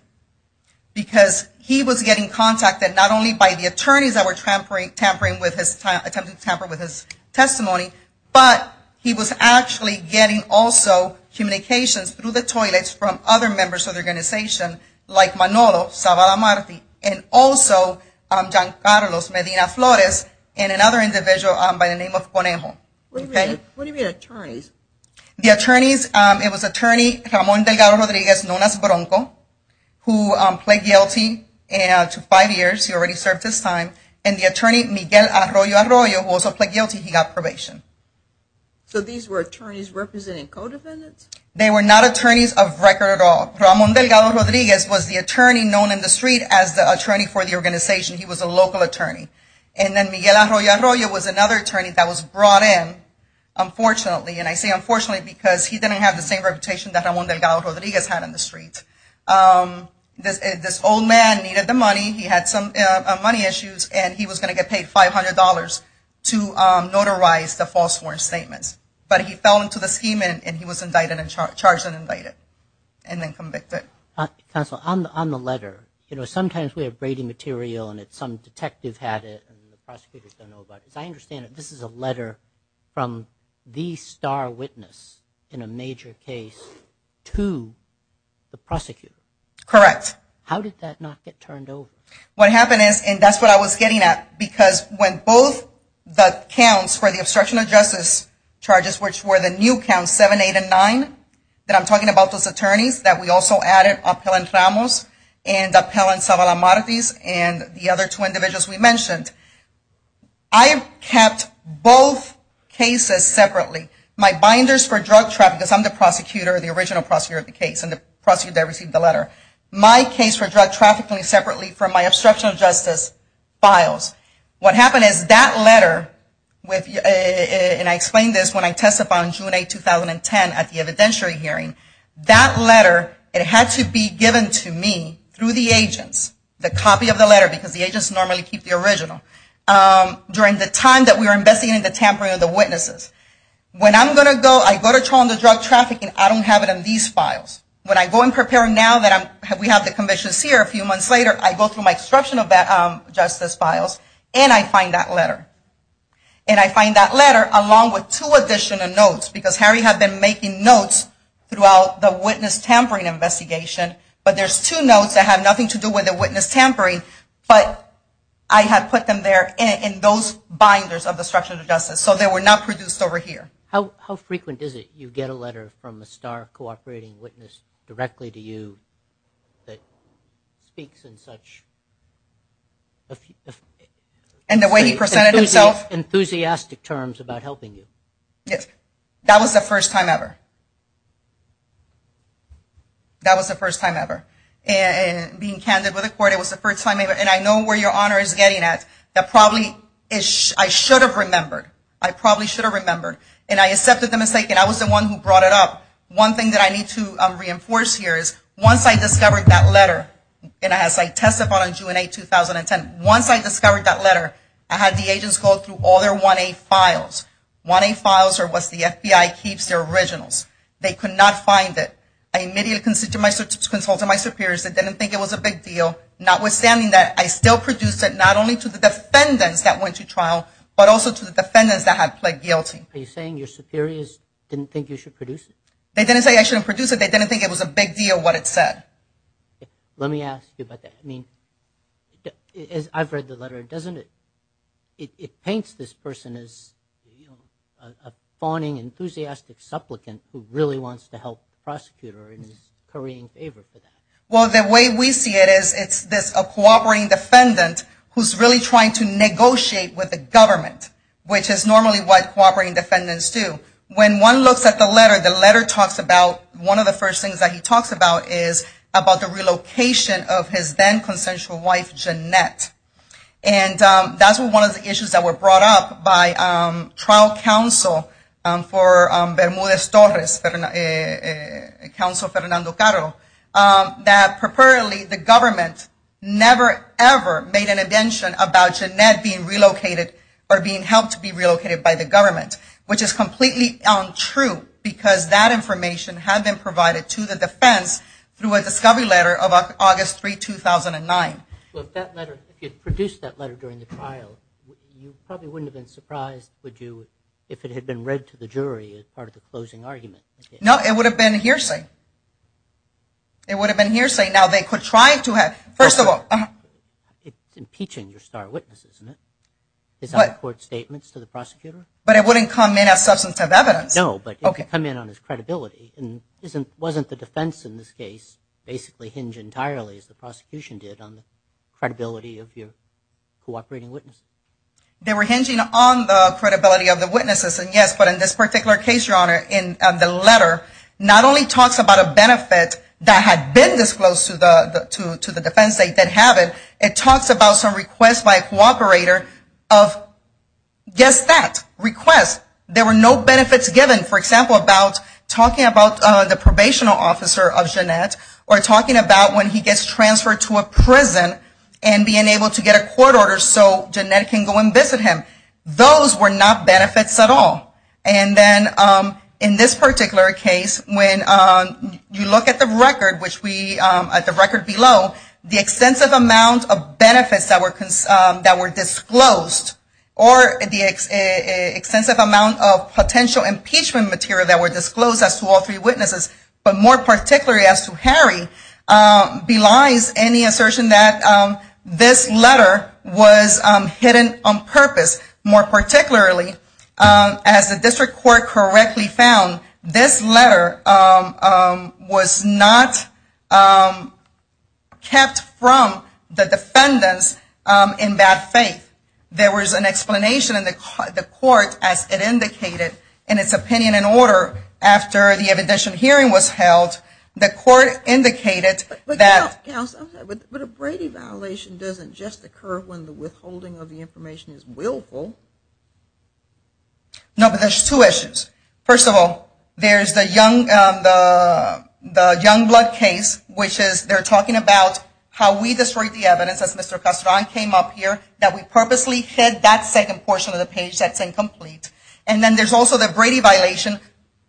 because he was getting contacted not only by the attorneys that were attempting to tamper with his testimony, but he was actually getting also communications through the toilets from other members of the organization, like Manolo Zavala-Martin, and also John Carlos Medina-Flores, and another individual by the name of Ponejo. Who were the attorneys? The attorneys, it was attorney Ramon Delgado Rodriguez, known as Bronco, who pled guilty. It took five years, he already served his time. And the attorney Miguel Arroyo Arroyo, who also pled guilty, he got probation. So these were attorneys representing co-defendants? They were not attorneys of record at all. Ramon Delgado Rodriguez was the attorney known in the street as the attorney for the organization. He was a local attorney. And then Miguel Arroyo Arroyo was another attorney that was brought in, unfortunately, and I say unfortunately because he didn't have the same reputation that Ramon Delgado Rodriguez had in the street. This old man needed the money. He had some money issues, and he was going to get paid $500 to notarize the false warrant statement. But he fell into the scheming, and he was charged and indicted, and then convicted. Counsel, on the letter, sometimes we have braiding material, and some detective had it, and the prosecutor doesn't know about it. I understand that this is a letter from the star witness in a major case to the prosecutor. Correct. How did that not get turned over? What happened is, and that's what I was getting at, because when both the counts for the obstruction of justice charges, which were the new counts, 7, 8, and 9, that I'm talking about those attorneys that we also added, and the other two individuals we mentioned, I have kept both cases separately. My binders for drug trafficking, because I'm the prosecutor, the original prosecutor of the case, and the prosecutor that received the letter. My case for drug trafficking separately from my obstruction of justice files. What happened is that letter, and I explained this when I testified on June 8, 2010 at the evidentiary hearing, that letter, it had to be given to me through the agents, the copy of the letter, because the agents normally keep the original, during the time that we were investigating the tampering of the witnesses. When I'm going to go, I go to Toronto Drug Trafficking, I don't have it in these files. When I go and prepare them now that we have the commissions here a few months later, I go through my obstruction of justice files, and I find that letter. And I find that letter, along with two additional notes, because Harry had been making notes throughout the witness tampering investigation, but there's two notes that have nothing to do with the witness tampering, but I had put them there in those binders of the obstruction of justice, so they were not produced over here. How frequent is it you get a letter from a STAR cooperating witness directly to you that speaks in such enthusiastic terms about helping you? Yes, that was the first time ever. That was the first time ever. And being candid with the court, it was the first time ever, and I know where your honor is getting at, that probably I should have remembered. I probably should have remembered, and I accepted the mistake, and I was the one who brought it up. One thing that I need to reinforce here is once I discovered that letter, and as I testified on June 8, 2010, once I discovered that letter, I had the agents go through all their 1A files, 1A files are what the FBI keeps, they're originals. They could not find it. I immediately consulted my superiors that didn't think it was a big deal. Notwithstanding that, I still produced it not only to the defendants that went to trial, but also to the defendants that had pled guilty. Are you saying your superiors didn't think you should produce it? They didn't say I shouldn't produce it. They didn't think it was a big deal, what it said. Let me ask you about that. I mean, I've read the letter. Doesn't it, it paints this person as a fawning, enthusiastic supplicant who really wants to help the prosecutor and is currying favor for them. Well, the way we see it is it's a cooperating defendant who's really trying to negotiate with the government, which is normally what cooperating defendants do. When one looks at the letter, the letter talks about, one of the first things that he talks about is about the relocation of his then-consensual wife, Jeanette. And that's one of the issues that were brought up by trial counsel for Bermudez-Torres, Counsel Fernando Caro, that preferably the government never ever made an intention about Jeanette being relocated or being helped to be relocated by the government, which is completely untrue because that information had been provided to the defense through a discovery letter of August 3, 2009. Well, if that letter, if you produced that letter during the trial, you probably wouldn't have been surprised, would you, if it had been read to the jury as part of a closing argument? No, it would have been hearsay. It would have been hearsay. Now, they could try to have... First of all... It's impeaching your star witnesses, isn't it? Is that a court statement to the prosecutor? But it wouldn't come in as substance of evidence. No, but it could come in on his credibility. And wasn't the defense in this case basically hinged entirely, as the prosecution did, on the credibility of your cooperating witnesses? They were hinging on the credibility of the witnesses, and yes, but in this particular case, Your Honor, in the letter, not only talks about a benefit that had been disclosed to the defense, they did have it, it talks about some requests by a cooperator of... Guess that. Requests. There were no benefits given, for example, about talking about the probation officer of Jeanette, or talking about when he gets transferred to a prison and being able to get a court order so Jeanette can go and visit him. Those were not benefits at all. And then in this particular case, when you look at the record, which we, at the record below, the extensive amount of benefits that were disclosed, or the extensive amount of potential impeachment material that were disclosed as to all three witnesses, but more particularly as to Harry, belies any assertion that this letter was hidden on purpose, more particularly, as the district court correctly found, this letter was not kept from the defendants in that faith. There was an explanation in the court as it indicated in its opinion and order after the additional hearing was held. The court indicated that... But, counsel, but a Brady violation doesn't just occur when the withholding of the information is willful. No, but there's two issues. First of all, there's the Youngblood case, which is they're talking about how we destroyed the evidence as Mr. Castron came up here that we purposely said that second portion of the page that's incomplete. And then there's also the Brady violation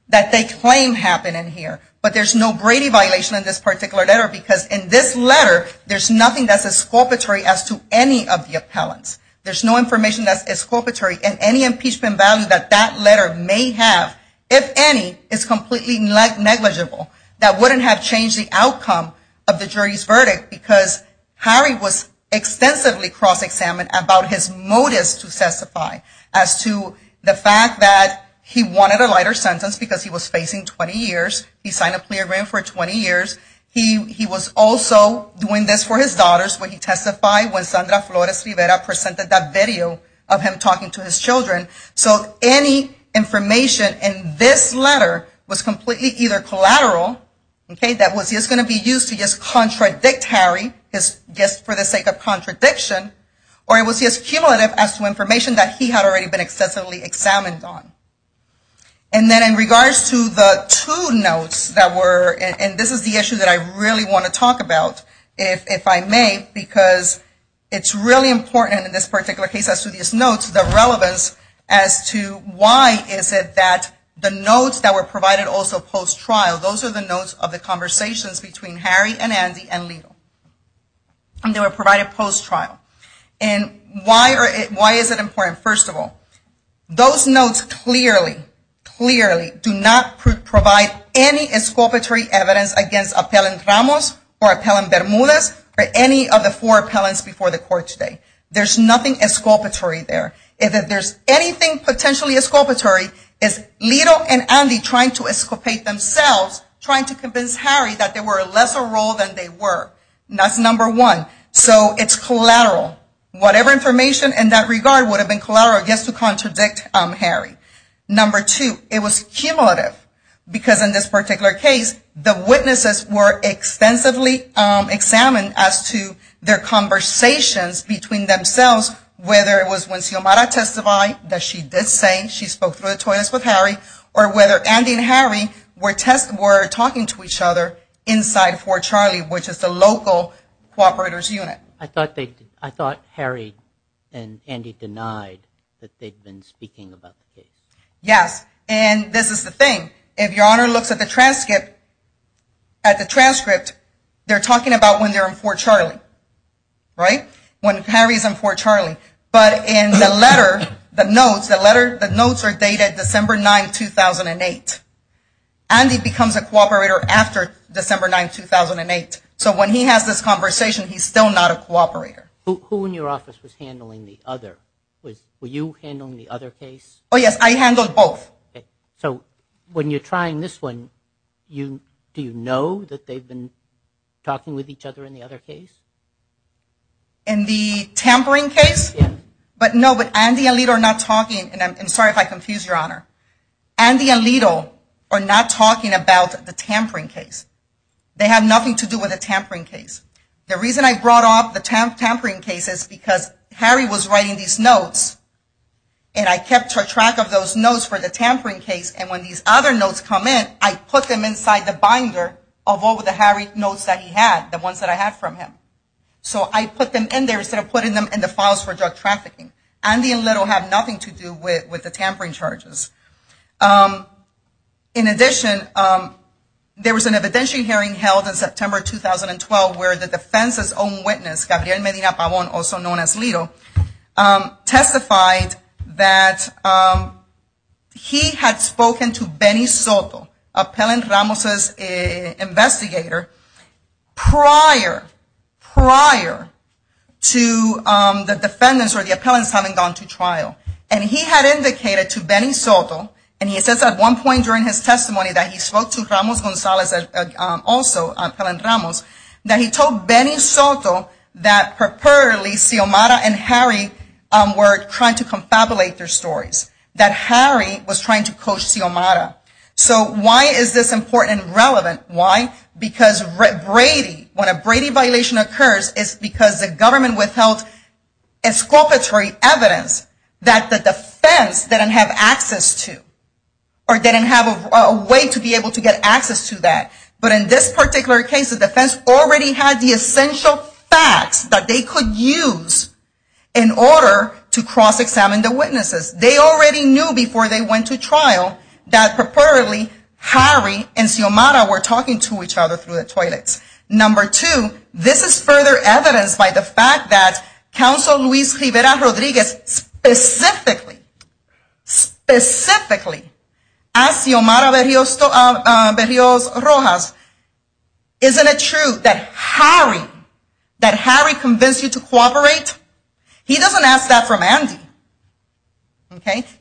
that they claim happened in here. But there's no Brady violation in this particular letter because in this letter, there's nothing that's exculpatory as to any of the appellants. There's no information that's exculpatory and any impeachment value that that letter may have, if any, is completely negligible. That wouldn't have changed the outcome of the jury's verdict because Harry was extensively cross-examined about his motives to testify as to the fact that he wanted a lighter sentence because he was facing 20 years. He signed a plea agreement for 20 years. He was also doing this for his daughters when he testified when Sandra Flores Rivera presented that video of him talking to his children. So any information in this letter was completely either collateral, that was just going to be used to just contradict Harry, just for the sake of contradiction, or it was just cumulative as to information that he had already been extensively examined on. And then in regards to the two notes that were, and this is the issue that I really want to talk about, if I may, because it's really important in this particular case as to these notes, the relevance as to why is it that the notes that were provided also post-trial, those are the notes of the conversations between Harry and Andy and legal. And they were provided post-trial. And why is it important? First of all, those notes clearly, clearly do not provide any exculpatory evidence against Appellant Ramos or Appellant Bermudez or any of the four appellants before the court today. There's nothing exculpatory there. If there's anything potentially exculpatory, it's Lito and Andy trying to exculpate themselves, trying to convince Harry that they were a lesser role than they were. That's number one. So it's collateral. Whatever information in that regard would have been collateral just to contradict Harry. Number two, it was cumulative. Because in this particular case, the witnesses were extensively examined as to their conversations between themselves, whether it was when Xiomara testified that she did say she spoke through the toilets with Harry, or whether Andy and Harry were talking to each other inside Fort Charlie, which is the local cooperators' unit. I thought Harry and Andy denied that they'd been speaking about the case. Yes, and this is the thing. If Your Honor looks at the transcript, they're talking about when they're in Fort Charlie, right? When Harry's in Fort Charlie. But in the letter, the notes, the notes are dated December 9, 2008. Andy becomes a cooperator after December 9, 2008. So when he has this conversation, he's still not a cooperator. Who in your office was handling the other? Were you handling the other case? Oh, yes, I handled both. So when you're trying this one, do you know that they've been talking with each other in the other case? In the tampering case? Yes. But no, but Andy and Alito are not talking, and I'm sorry if I confused Your Honor. Andy and Alito are not talking about the tampering case. They had nothing to do with the tampering case. The reason I brought up the tampering case is because Harry was writing these notes, and I kept track of those notes for the tampering case, and when these other notes come in, I put them inside the binder of all the Harry notes that he had, the ones that I had from him. So I put them in there instead of putting them in the files for drug trafficking. Andy and Alito had nothing to do with the tampering charges. In addition, there was an evidentiary hearing held in September 2012 where the defense's own witness, Gabriel Medina Pavon, also known as Alito, testified that he had spoken to Benny Soto, Appellant Ramos's investigator, prior, prior to the defendants or the appellants having gone to trial. And he had indicated to Benny Soto, and he says at one point during his testimony that he spoke to Ramos Gonzalez, also Appellant Ramos, that he told Benny Soto that, preferably, Xiomara and Harry were trying to confabulate their stories, that Harry was trying to coach Xiomara. So why is this important and relevant? Why? Because Brady, when a Brady violation occurs, it's because the government withheld exculpatory evidence that the defense didn't have access to or didn't have a way to be able to get access to that. But in this particular case, the defense already had the essential facts that they could use in order to cross-examine the witnesses. They already knew before they went to trial that, preferably, Harry and Xiomara were talking to each other through the toilet. Number two, this is further evidenced by the fact that Counsel Luis Rivera Rodriguez specifically asked Xiomara Berrios Rojas, isn't it true that Harry convinced you to cooperate? He doesn't ask that from Andy.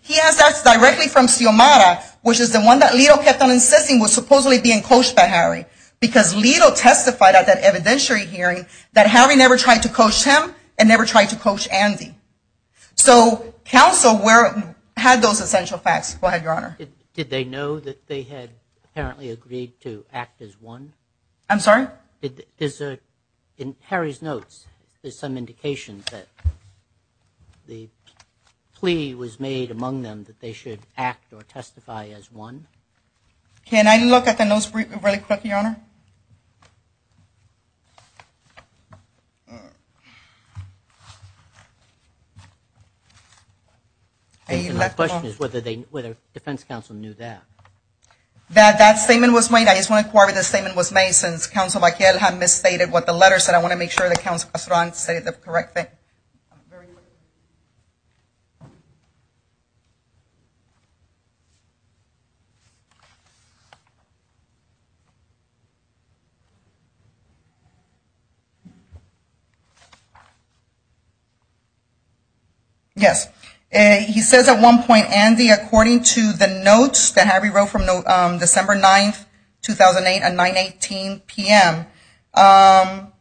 He asks that directly from Xiomara, which is the one that Lito kept on insisting was supposedly being coached by Harry because Lito testified at that evidentiary hearing that Harry never tried to coach him and never tried to coach Andy. So Counsel had those essential facts. Go ahead, Your Honor. Did they know that they had apparently agreed to act as one? I'm sorry? In Harry's notes, there's some indication that the plea was made among them that they should act or testify as one. Can I look at the notes really quick, Your Honor? My question is whether the defense counsel knew that. That statement was made. I just want to clarify that the statement was made since Counsel Vaquel had misstated what the letter said. I want to make sure that Counsel Strong said the correct thing. I'm sorry. Yes. He says at one point, Andy, according to the notes that Harry wrote from December 9, 2008 at 9.18 p.m.,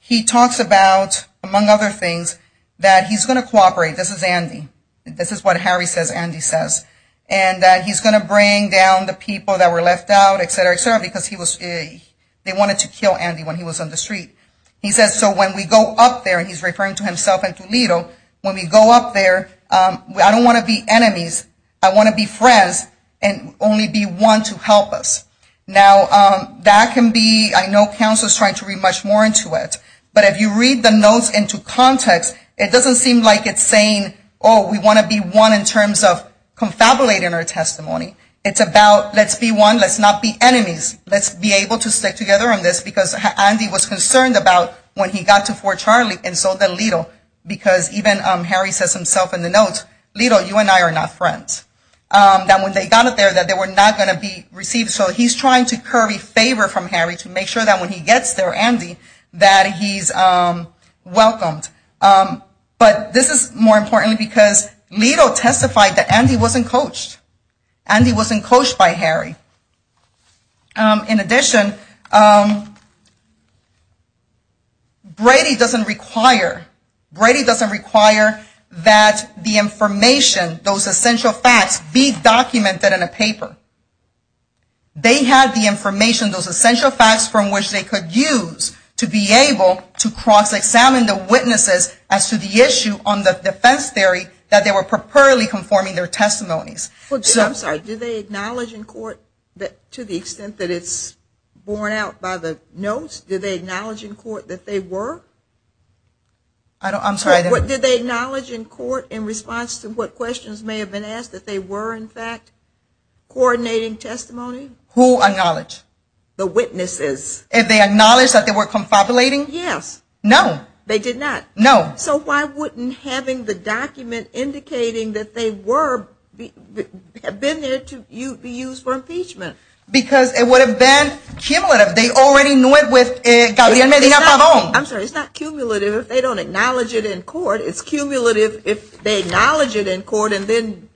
he talks about, among other things, that he's going to cooperate. This is Andy. This is what Harry says Andy says, and that he's going to bring down the people that were left out, etc., etc., because they wanted to kill Andy when he was on the street. He says, so when we go up there, and he's referring to himself and to Lito, when we go up there, I don't want to be enemies. I want to be friends and only be one to help us. Now, that can be, I know Counsel is trying to read much more into it, but if you read the notes into context, it doesn't seem like it's saying, oh, we want to be one in terms of confabulating our testimony. It's about let's be one, let's not be enemies. Let's be able to stick together on this, because Andy was concerned about when he got to Fort Charlie and so did Lito, because even Harry says himself in the notes, Lito, you and I are not friends, that when they got up there, that they were not going to be received. So he's trying to curve a favor from Harry to make sure that when he gets there, Andy, that he's welcomed. But this is more important because Lito testified that Andy wasn't coached. Andy wasn't coached by Harry. In addition, Brady doesn't require that the information, those essential facts be documented in a paper. They had the information, those essential facts from which they could use to be able to cross-examine the witnesses as to the issue on the defense theory that they were properly conforming their testimonies. I'm sorry. Did they acknowledge in court, to the extent that it's borne out by the notes, did they acknowledge in court that they were? I'm sorry. Did they acknowledge in court in response to what questions may have been asked that they were, in fact, coordinating testimony? Who acknowledged? The witnesses. Did they acknowledge that they were confabulating? Yes. No. They did not? No. So why wouldn't having the document indicating that they were have been there to be used for impeachment? Because it would have been cumulative. They already knew it with Gabriela. I'm sorry. It's not cumulative if they don't acknowledge it in court. It's cumulative if they acknowledge it in court and then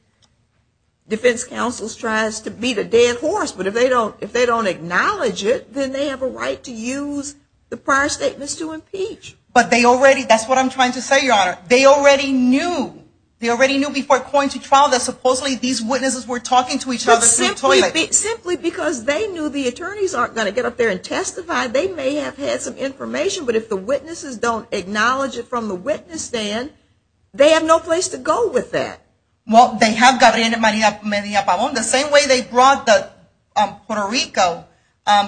defense counsel tries to beat a dead horse. But if they don't acknowledge it, then they have a right to use the prior statements to impeach. But they already – that's what I'm trying to say, Your Honor. They already knew. They already knew before going to trial that supposedly these witnesses were talking to each other in the toilet. Simply because they knew the attorneys aren't going to get up there and testify. They may have had some information, but if the witnesses don't acknowledge it from the witness stand, they have no place to go with that. Well, they have Gabriela Maria Pavon. The same way they brought the Puerto Rico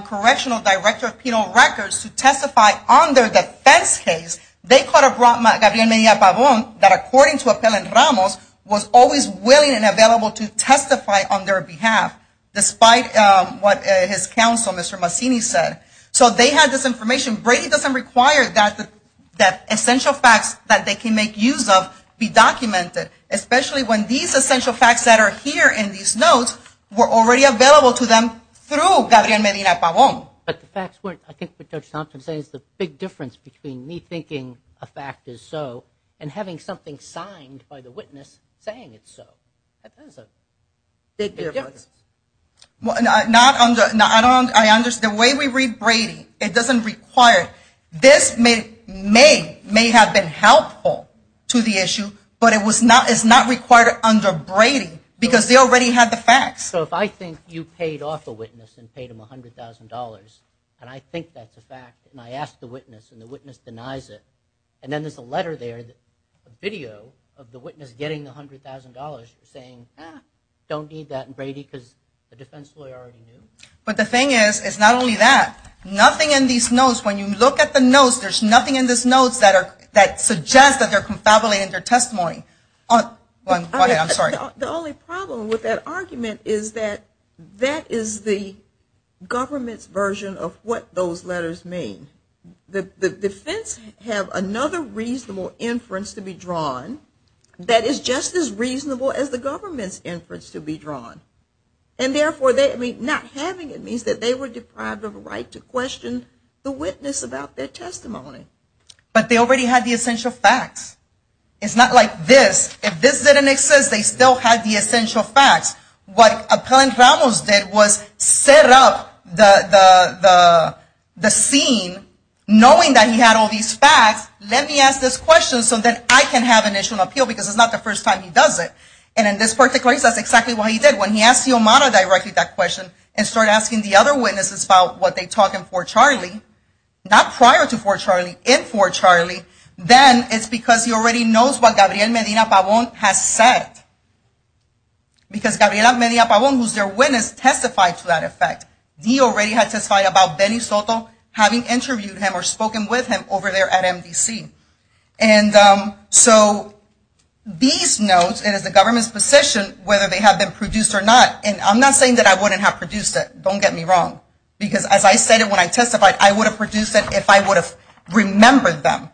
Correctional Director of Penal Records to testify on their defense case, they could have brought Gabriela Maria Pavon that, according to Appellant Ramos, was always willing and available to testify on their behalf, despite what his counsel, Mr. Massini, said. So they had this information. Brady doesn't require that essential facts that they can make use of be documented, especially when these essential facts that are here in these notes were already available to them through Gabriela Maria Pavon. But that's where, I guess what Judge Thompson says, the big difference between me thinking a fact is so and having something signed by the witness saying it's so. That's a big difference. I don't understand. The way we read Brady, it doesn't require it. This may have been helpful to the issue, but it's not required under Brady because they already have the facts. So if I think you paid off a witness and paid them $100,000, and I think that's a fact and I ask the witness and the witness denies it, and then there's a letter there, a video of the witness getting the $100,000 saying, I don't need that in Brady because the defense lawyer already did it. But the thing is, it's not only that. Nothing in these notes, when you look at the notes, there's nothing in these notes that suggests that they're confabulating their testimony. The only problem with that argument is that that is the government's version of what those letters mean. The defense have another reasonable inference to be drawn that is just as reasonable as the government's inference to be drawn. And therefore, not having it means that they were deprived of a right to question the witness about their testimony. But they already had the essential facts. It's not like this. If this didn't exist, they still had the essential facts. What Appellant Ramos did was set up the scene, knowing that he had all these facts, let me ask this question so that I can have initial appeal because it's not the first time he does it. And in this particular case, that's exactly what he did. When he asked the Omana directly that question and started asking the other witnesses about what they taught in Fort Charlie, not prior to Fort Charlie, in Fort Charlie, then it's because he already knows what Gabriel Medina Pavon had said. Because Gabriel Medina Pavon, who's their witness, testified to that effect. He already had testified about Benny Soto having interviewed him or spoken with him over there at MDC. And so these notes, it is the government's decision whether they have been produced or not. And I'm not saying that I wouldn't have produced it. Don't get me wrong. Because as I said when I testified, I would have produced it if I would have remembered them.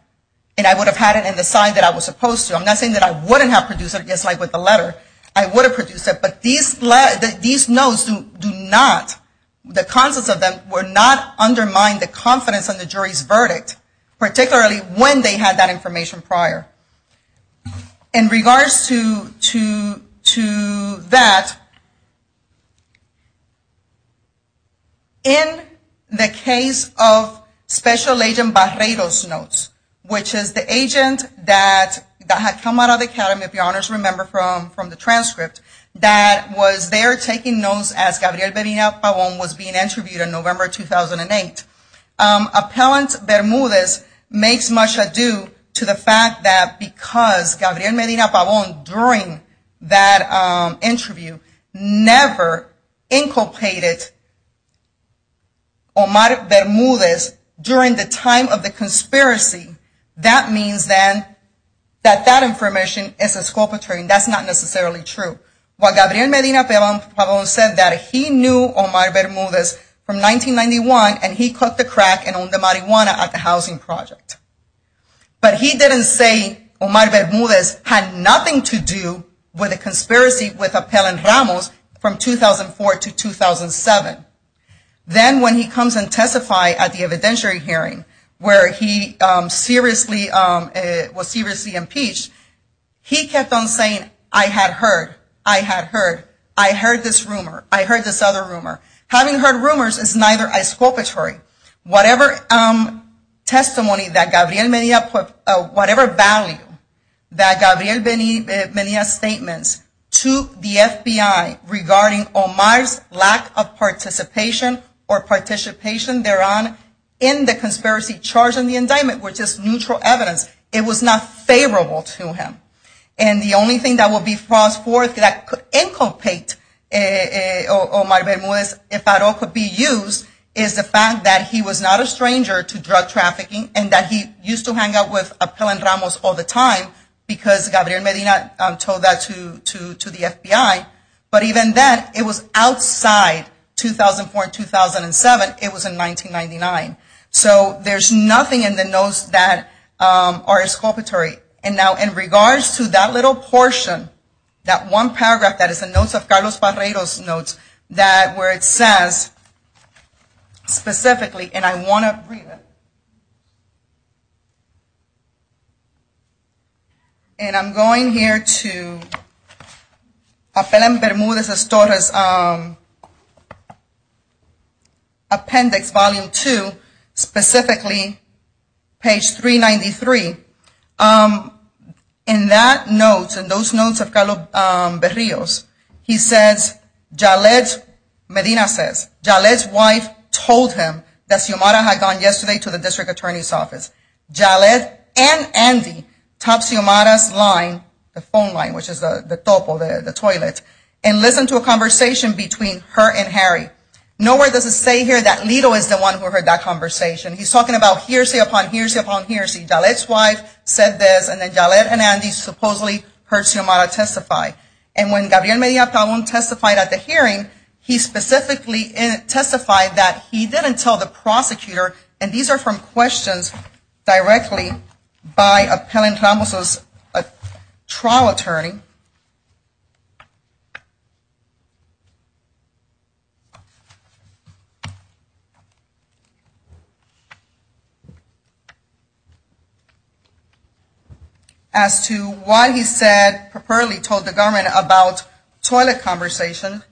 And I would have had it in the sign that I was supposed to. I'm not saying that I wouldn't have produced it, just like with the letter. I would have produced it. But these notes do not, the contents of them, would not undermine the confidence of the jury's verdict, particularly when they had that information prior. In regards to that, in the case of Special Agent Barredo's notes, which is the agent that had come out of the academy, if you'll remember from the transcript, that was there taking notes as Gabriel Medina Pavon was being interviewed in November 2008. Appellant Bermudez makes much ado to the fact that because Gabriel Medina Pavon, during that interview, never inculcated Omar Bermudez during the time of the conspiracy, that means then that that information is exculpatory. That's not necessarily true. While Gabriel Medina Pavon said that he knew Omar Bermudez from 1991, and he cooked the crack and owned the marijuana at the housing project. But he didn't say Omar Bermudez had nothing to do with the conspiracy with Appellant Ramos from 2004 to 2007. Then when he comes and testifies at the evidentiary hearing where he was seriously impeached, he kept on saying, I had heard, I had heard, I heard this rumor, I heard this other rumor. Having heard rumors is neither exculpatory. Whatever testimony that Gabriel Medina, whatever value that Gabriel Medina's statements to the FBI regarding Omar's lack of participation or participation thereon in the conspiracy charge in the indictment, which is neutral evidence, it was not favorable to him. The only thing that would be false for that could inculcate Omar Bermudez if at all could be used is the fact that he was not a stranger to drug trafficking and that he used to hang out with Appellant Ramos all the time because Gabriel Medina told that to the FBI. But even then, it was outside 2004 and 2007. It was in 1999. So there's nothing in the notes that are exculpatory. And now in regards to that little portion, that one paragraph that is a note of Carlos Barreiro's notes that where it says specifically, and I want to read it. And I'm going here to Appellant Bermudez-Estores Appendix, Volume 2, specifically, page 393. In that note, in those notes of Carlos Barreiro's, he says, Medina says, Jalette's wife told him that Xiomara had gone yesterday to the district attorney's office. Jalette and Andy tapped Xiomara's line, the phone line, which is the topo, the toilet, and listened to a conversation between her and Harry. Nowhere does it say here that Lito is the one who heard that conversation. He's talking about hearsay upon hearsay upon hearsay. Jalette's wife said this, and then Jalette and Andy supposedly heard Xiomara testify. And when Gabriel Medina-Tabón testified at the hearing, he specifically testified that he didn't tell the prosecutor, and these are from questions directly by Appellant Ramos' trial attorney. As to why he said, preferably told the government about toilet conversations,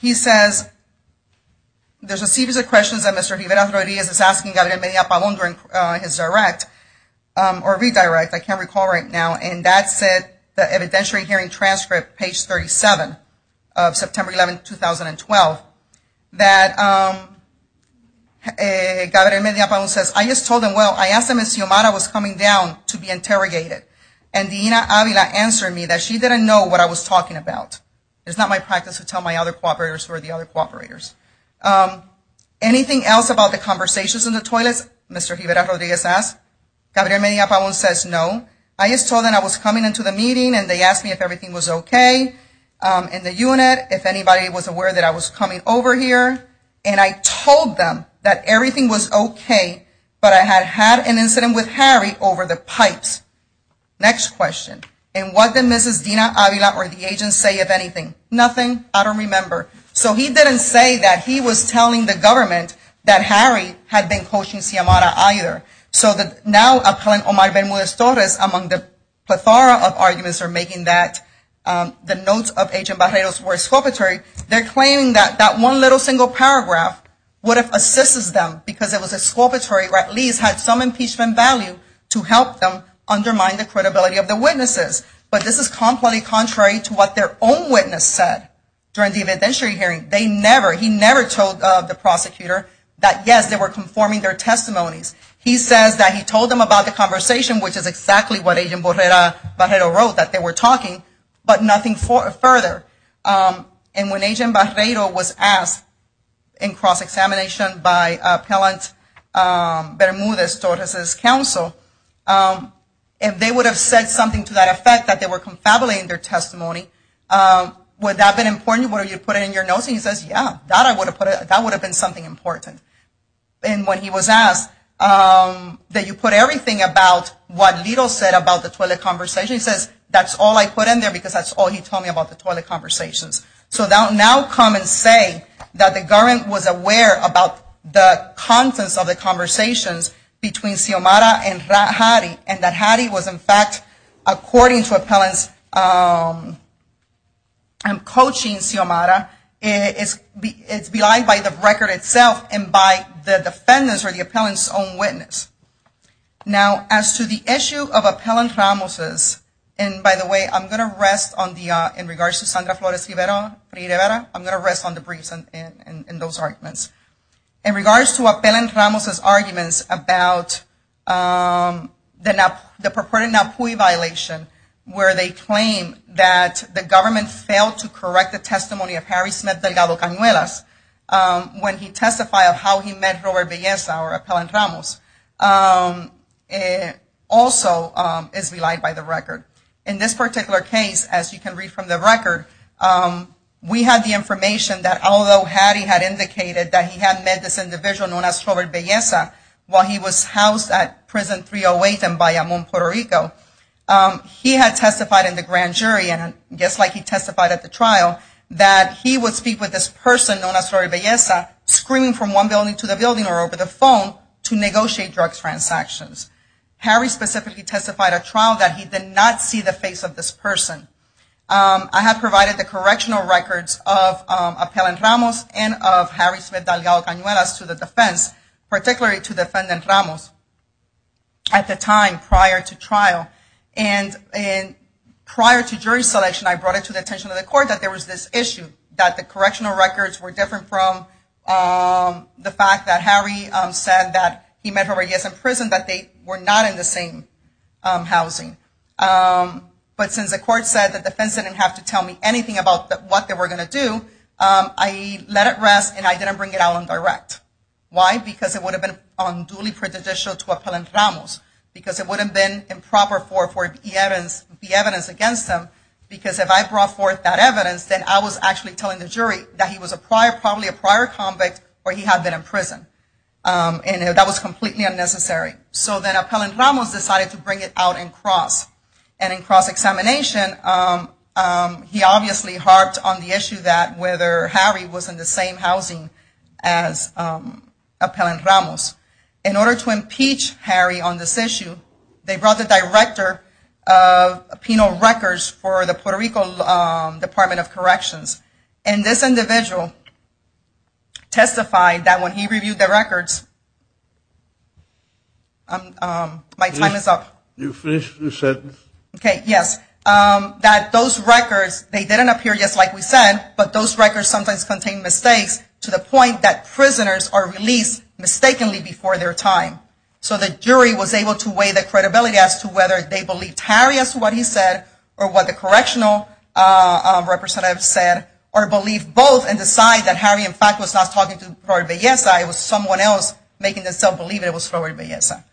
he says, there's a series of questions that Mr. Rivera-Ferreira is asking Gabriel Medina-Tabón during his redirect, or redirect, I can't recall right now, and that's at the evidentiary hearing transcript, page 37 of September 11, 2012, that Gabriel Medina-Tabón says, I just told him, well, I asked him if Xiomara was coming down to be interrogated, and Dina Avila answered me that she didn't know what I was talking about. It's not my practice to tell my other cooperators who are the other cooperators. Anything else about the conversations in the toilet, Mr. Rivera-Ferreira says. Gabriel Medina-Tabón says no. I just told him I was coming into the meeting and they asked me if everything was okay in the unit, if anybody was aware that I was coming over here, and I told them that everything was okay, but I had had an incident with Harry over the pipes. Next question. And what did Mrs. Dina Avila or the agent say, if anything? Nothing. I don't remember. So he didn't say that he was telling the government that Harry had been coaching Xiomara either. So now I'm telling Omar Ben Munoz-Torres, among the plethora of arguments for making that, the notes of Agent Barreiro's were exculpatory. They're claiming that that one little single paragraph would have assisted them because it was exculpatory or at least had some impeachment value to help them undermine the credibility of the witnesses. But this is completely contrary to what their own witness said during the evidentiary hearing. They never, he never told the prosecutor that, yes, they were conforming their testimonies. He says that he told them about the conversation, which is exactly what Agent Barreiro wrote, that they were talking, but nothing further. And when Agent Barreiro was asked in cross-examination by Appellant Bermudez-Torres' counsel, if they would have said something to that effect, that they were confabulating their testimony, would that have been important? Would you have put it in your notes? And he says, yeah, that would have been something important. And when he was asked that you put everything about what Lito said about the toilet conversation, he says, that's all I put in there because that's all he told me about the toilet conversations. So now come and say that the government was aware about the contents of the conversations between Xiomara and Hattie, and that Hattie was, in fact, according to Appellant's coaching, Xiomara is belied by the record itself and by the defendants or the appellant's own witness. Now, as to the issue of Appellant Ramos's, and by the way, I'm going to rest on the, in regards to Sandra Flores Rivera, I'm going to rest on the briefs and those arguments. In regards to Appellant Ramos's arguments about the purported NAPUI violation, where they claim that the government failed to correct the testimony of Harry Smith de la Lucanuelas when he testified of how he met Robert Belleza, or Appellant Ramos, also is belied by the record. In this particular case, as you can read from the record, we have the information that although Hattie had indicated that he had met this individual known as Robert Belleza while he was housed at Prison 308 in Bayamón, Puerto Rico, he had testified in the grand jury, and just like he testified at the trial, that he would speak with this person known as Robert Belleza, screaming from one building to the building or over the phone to negotiate drug transactions. Harry specifically testified at trial that he did not see the face of this person. I have provided the correctional records of Appellant Ramos and of Harry Smith de la Lucanuelas to the defense, particularly to Defendant Ramos, at the time prior to trial. And prior to jury selection, I brought it to the attention of the court that there was this issue, that the correctional records were different from the fact that Harry said that he met Robert Belleza in prison, but they were not in the same housing. But since the court said the defense didn't have to tell me anything about what they were going to do, I let it rest and I didn't bring it out on direct. Why? Because it would have been unduly prejudicial to Appellant Ramos, because it would have been improper for him to be evidence against him, because if I brought forth that evidence, then I was actually telling the jury that he was probably a prior convict or he had been in prison, and that was completely unnecessary. So then Appellant Ramos decided to bring it out in cross, and in cross-examination, he obviously harped on the issue that whether Harry was in the same housing as Appellant Ramos. In order to impeach Harry on this issue, they brought the director of penal records for the Puerto Rico Department of Corrections. And this individual testified that when he reviewed the records – my time is up. You finished your sentence? Okay, yes. That those records, they didn't appear just like we said, but those records sometimes contain mistakes to the point that prisoners are released mistakenly before their time. So the jury was able to weigh the credibility as to whether they believed Harry as to what he said or what the correctional representative said, or believed both and decided that Harry, in fact, was not talking to Florida Belleza, it was someone else making themselves believe it was Florida Belleza.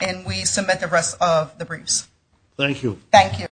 And we submit the rest of the briefs. Thank you. Thank you.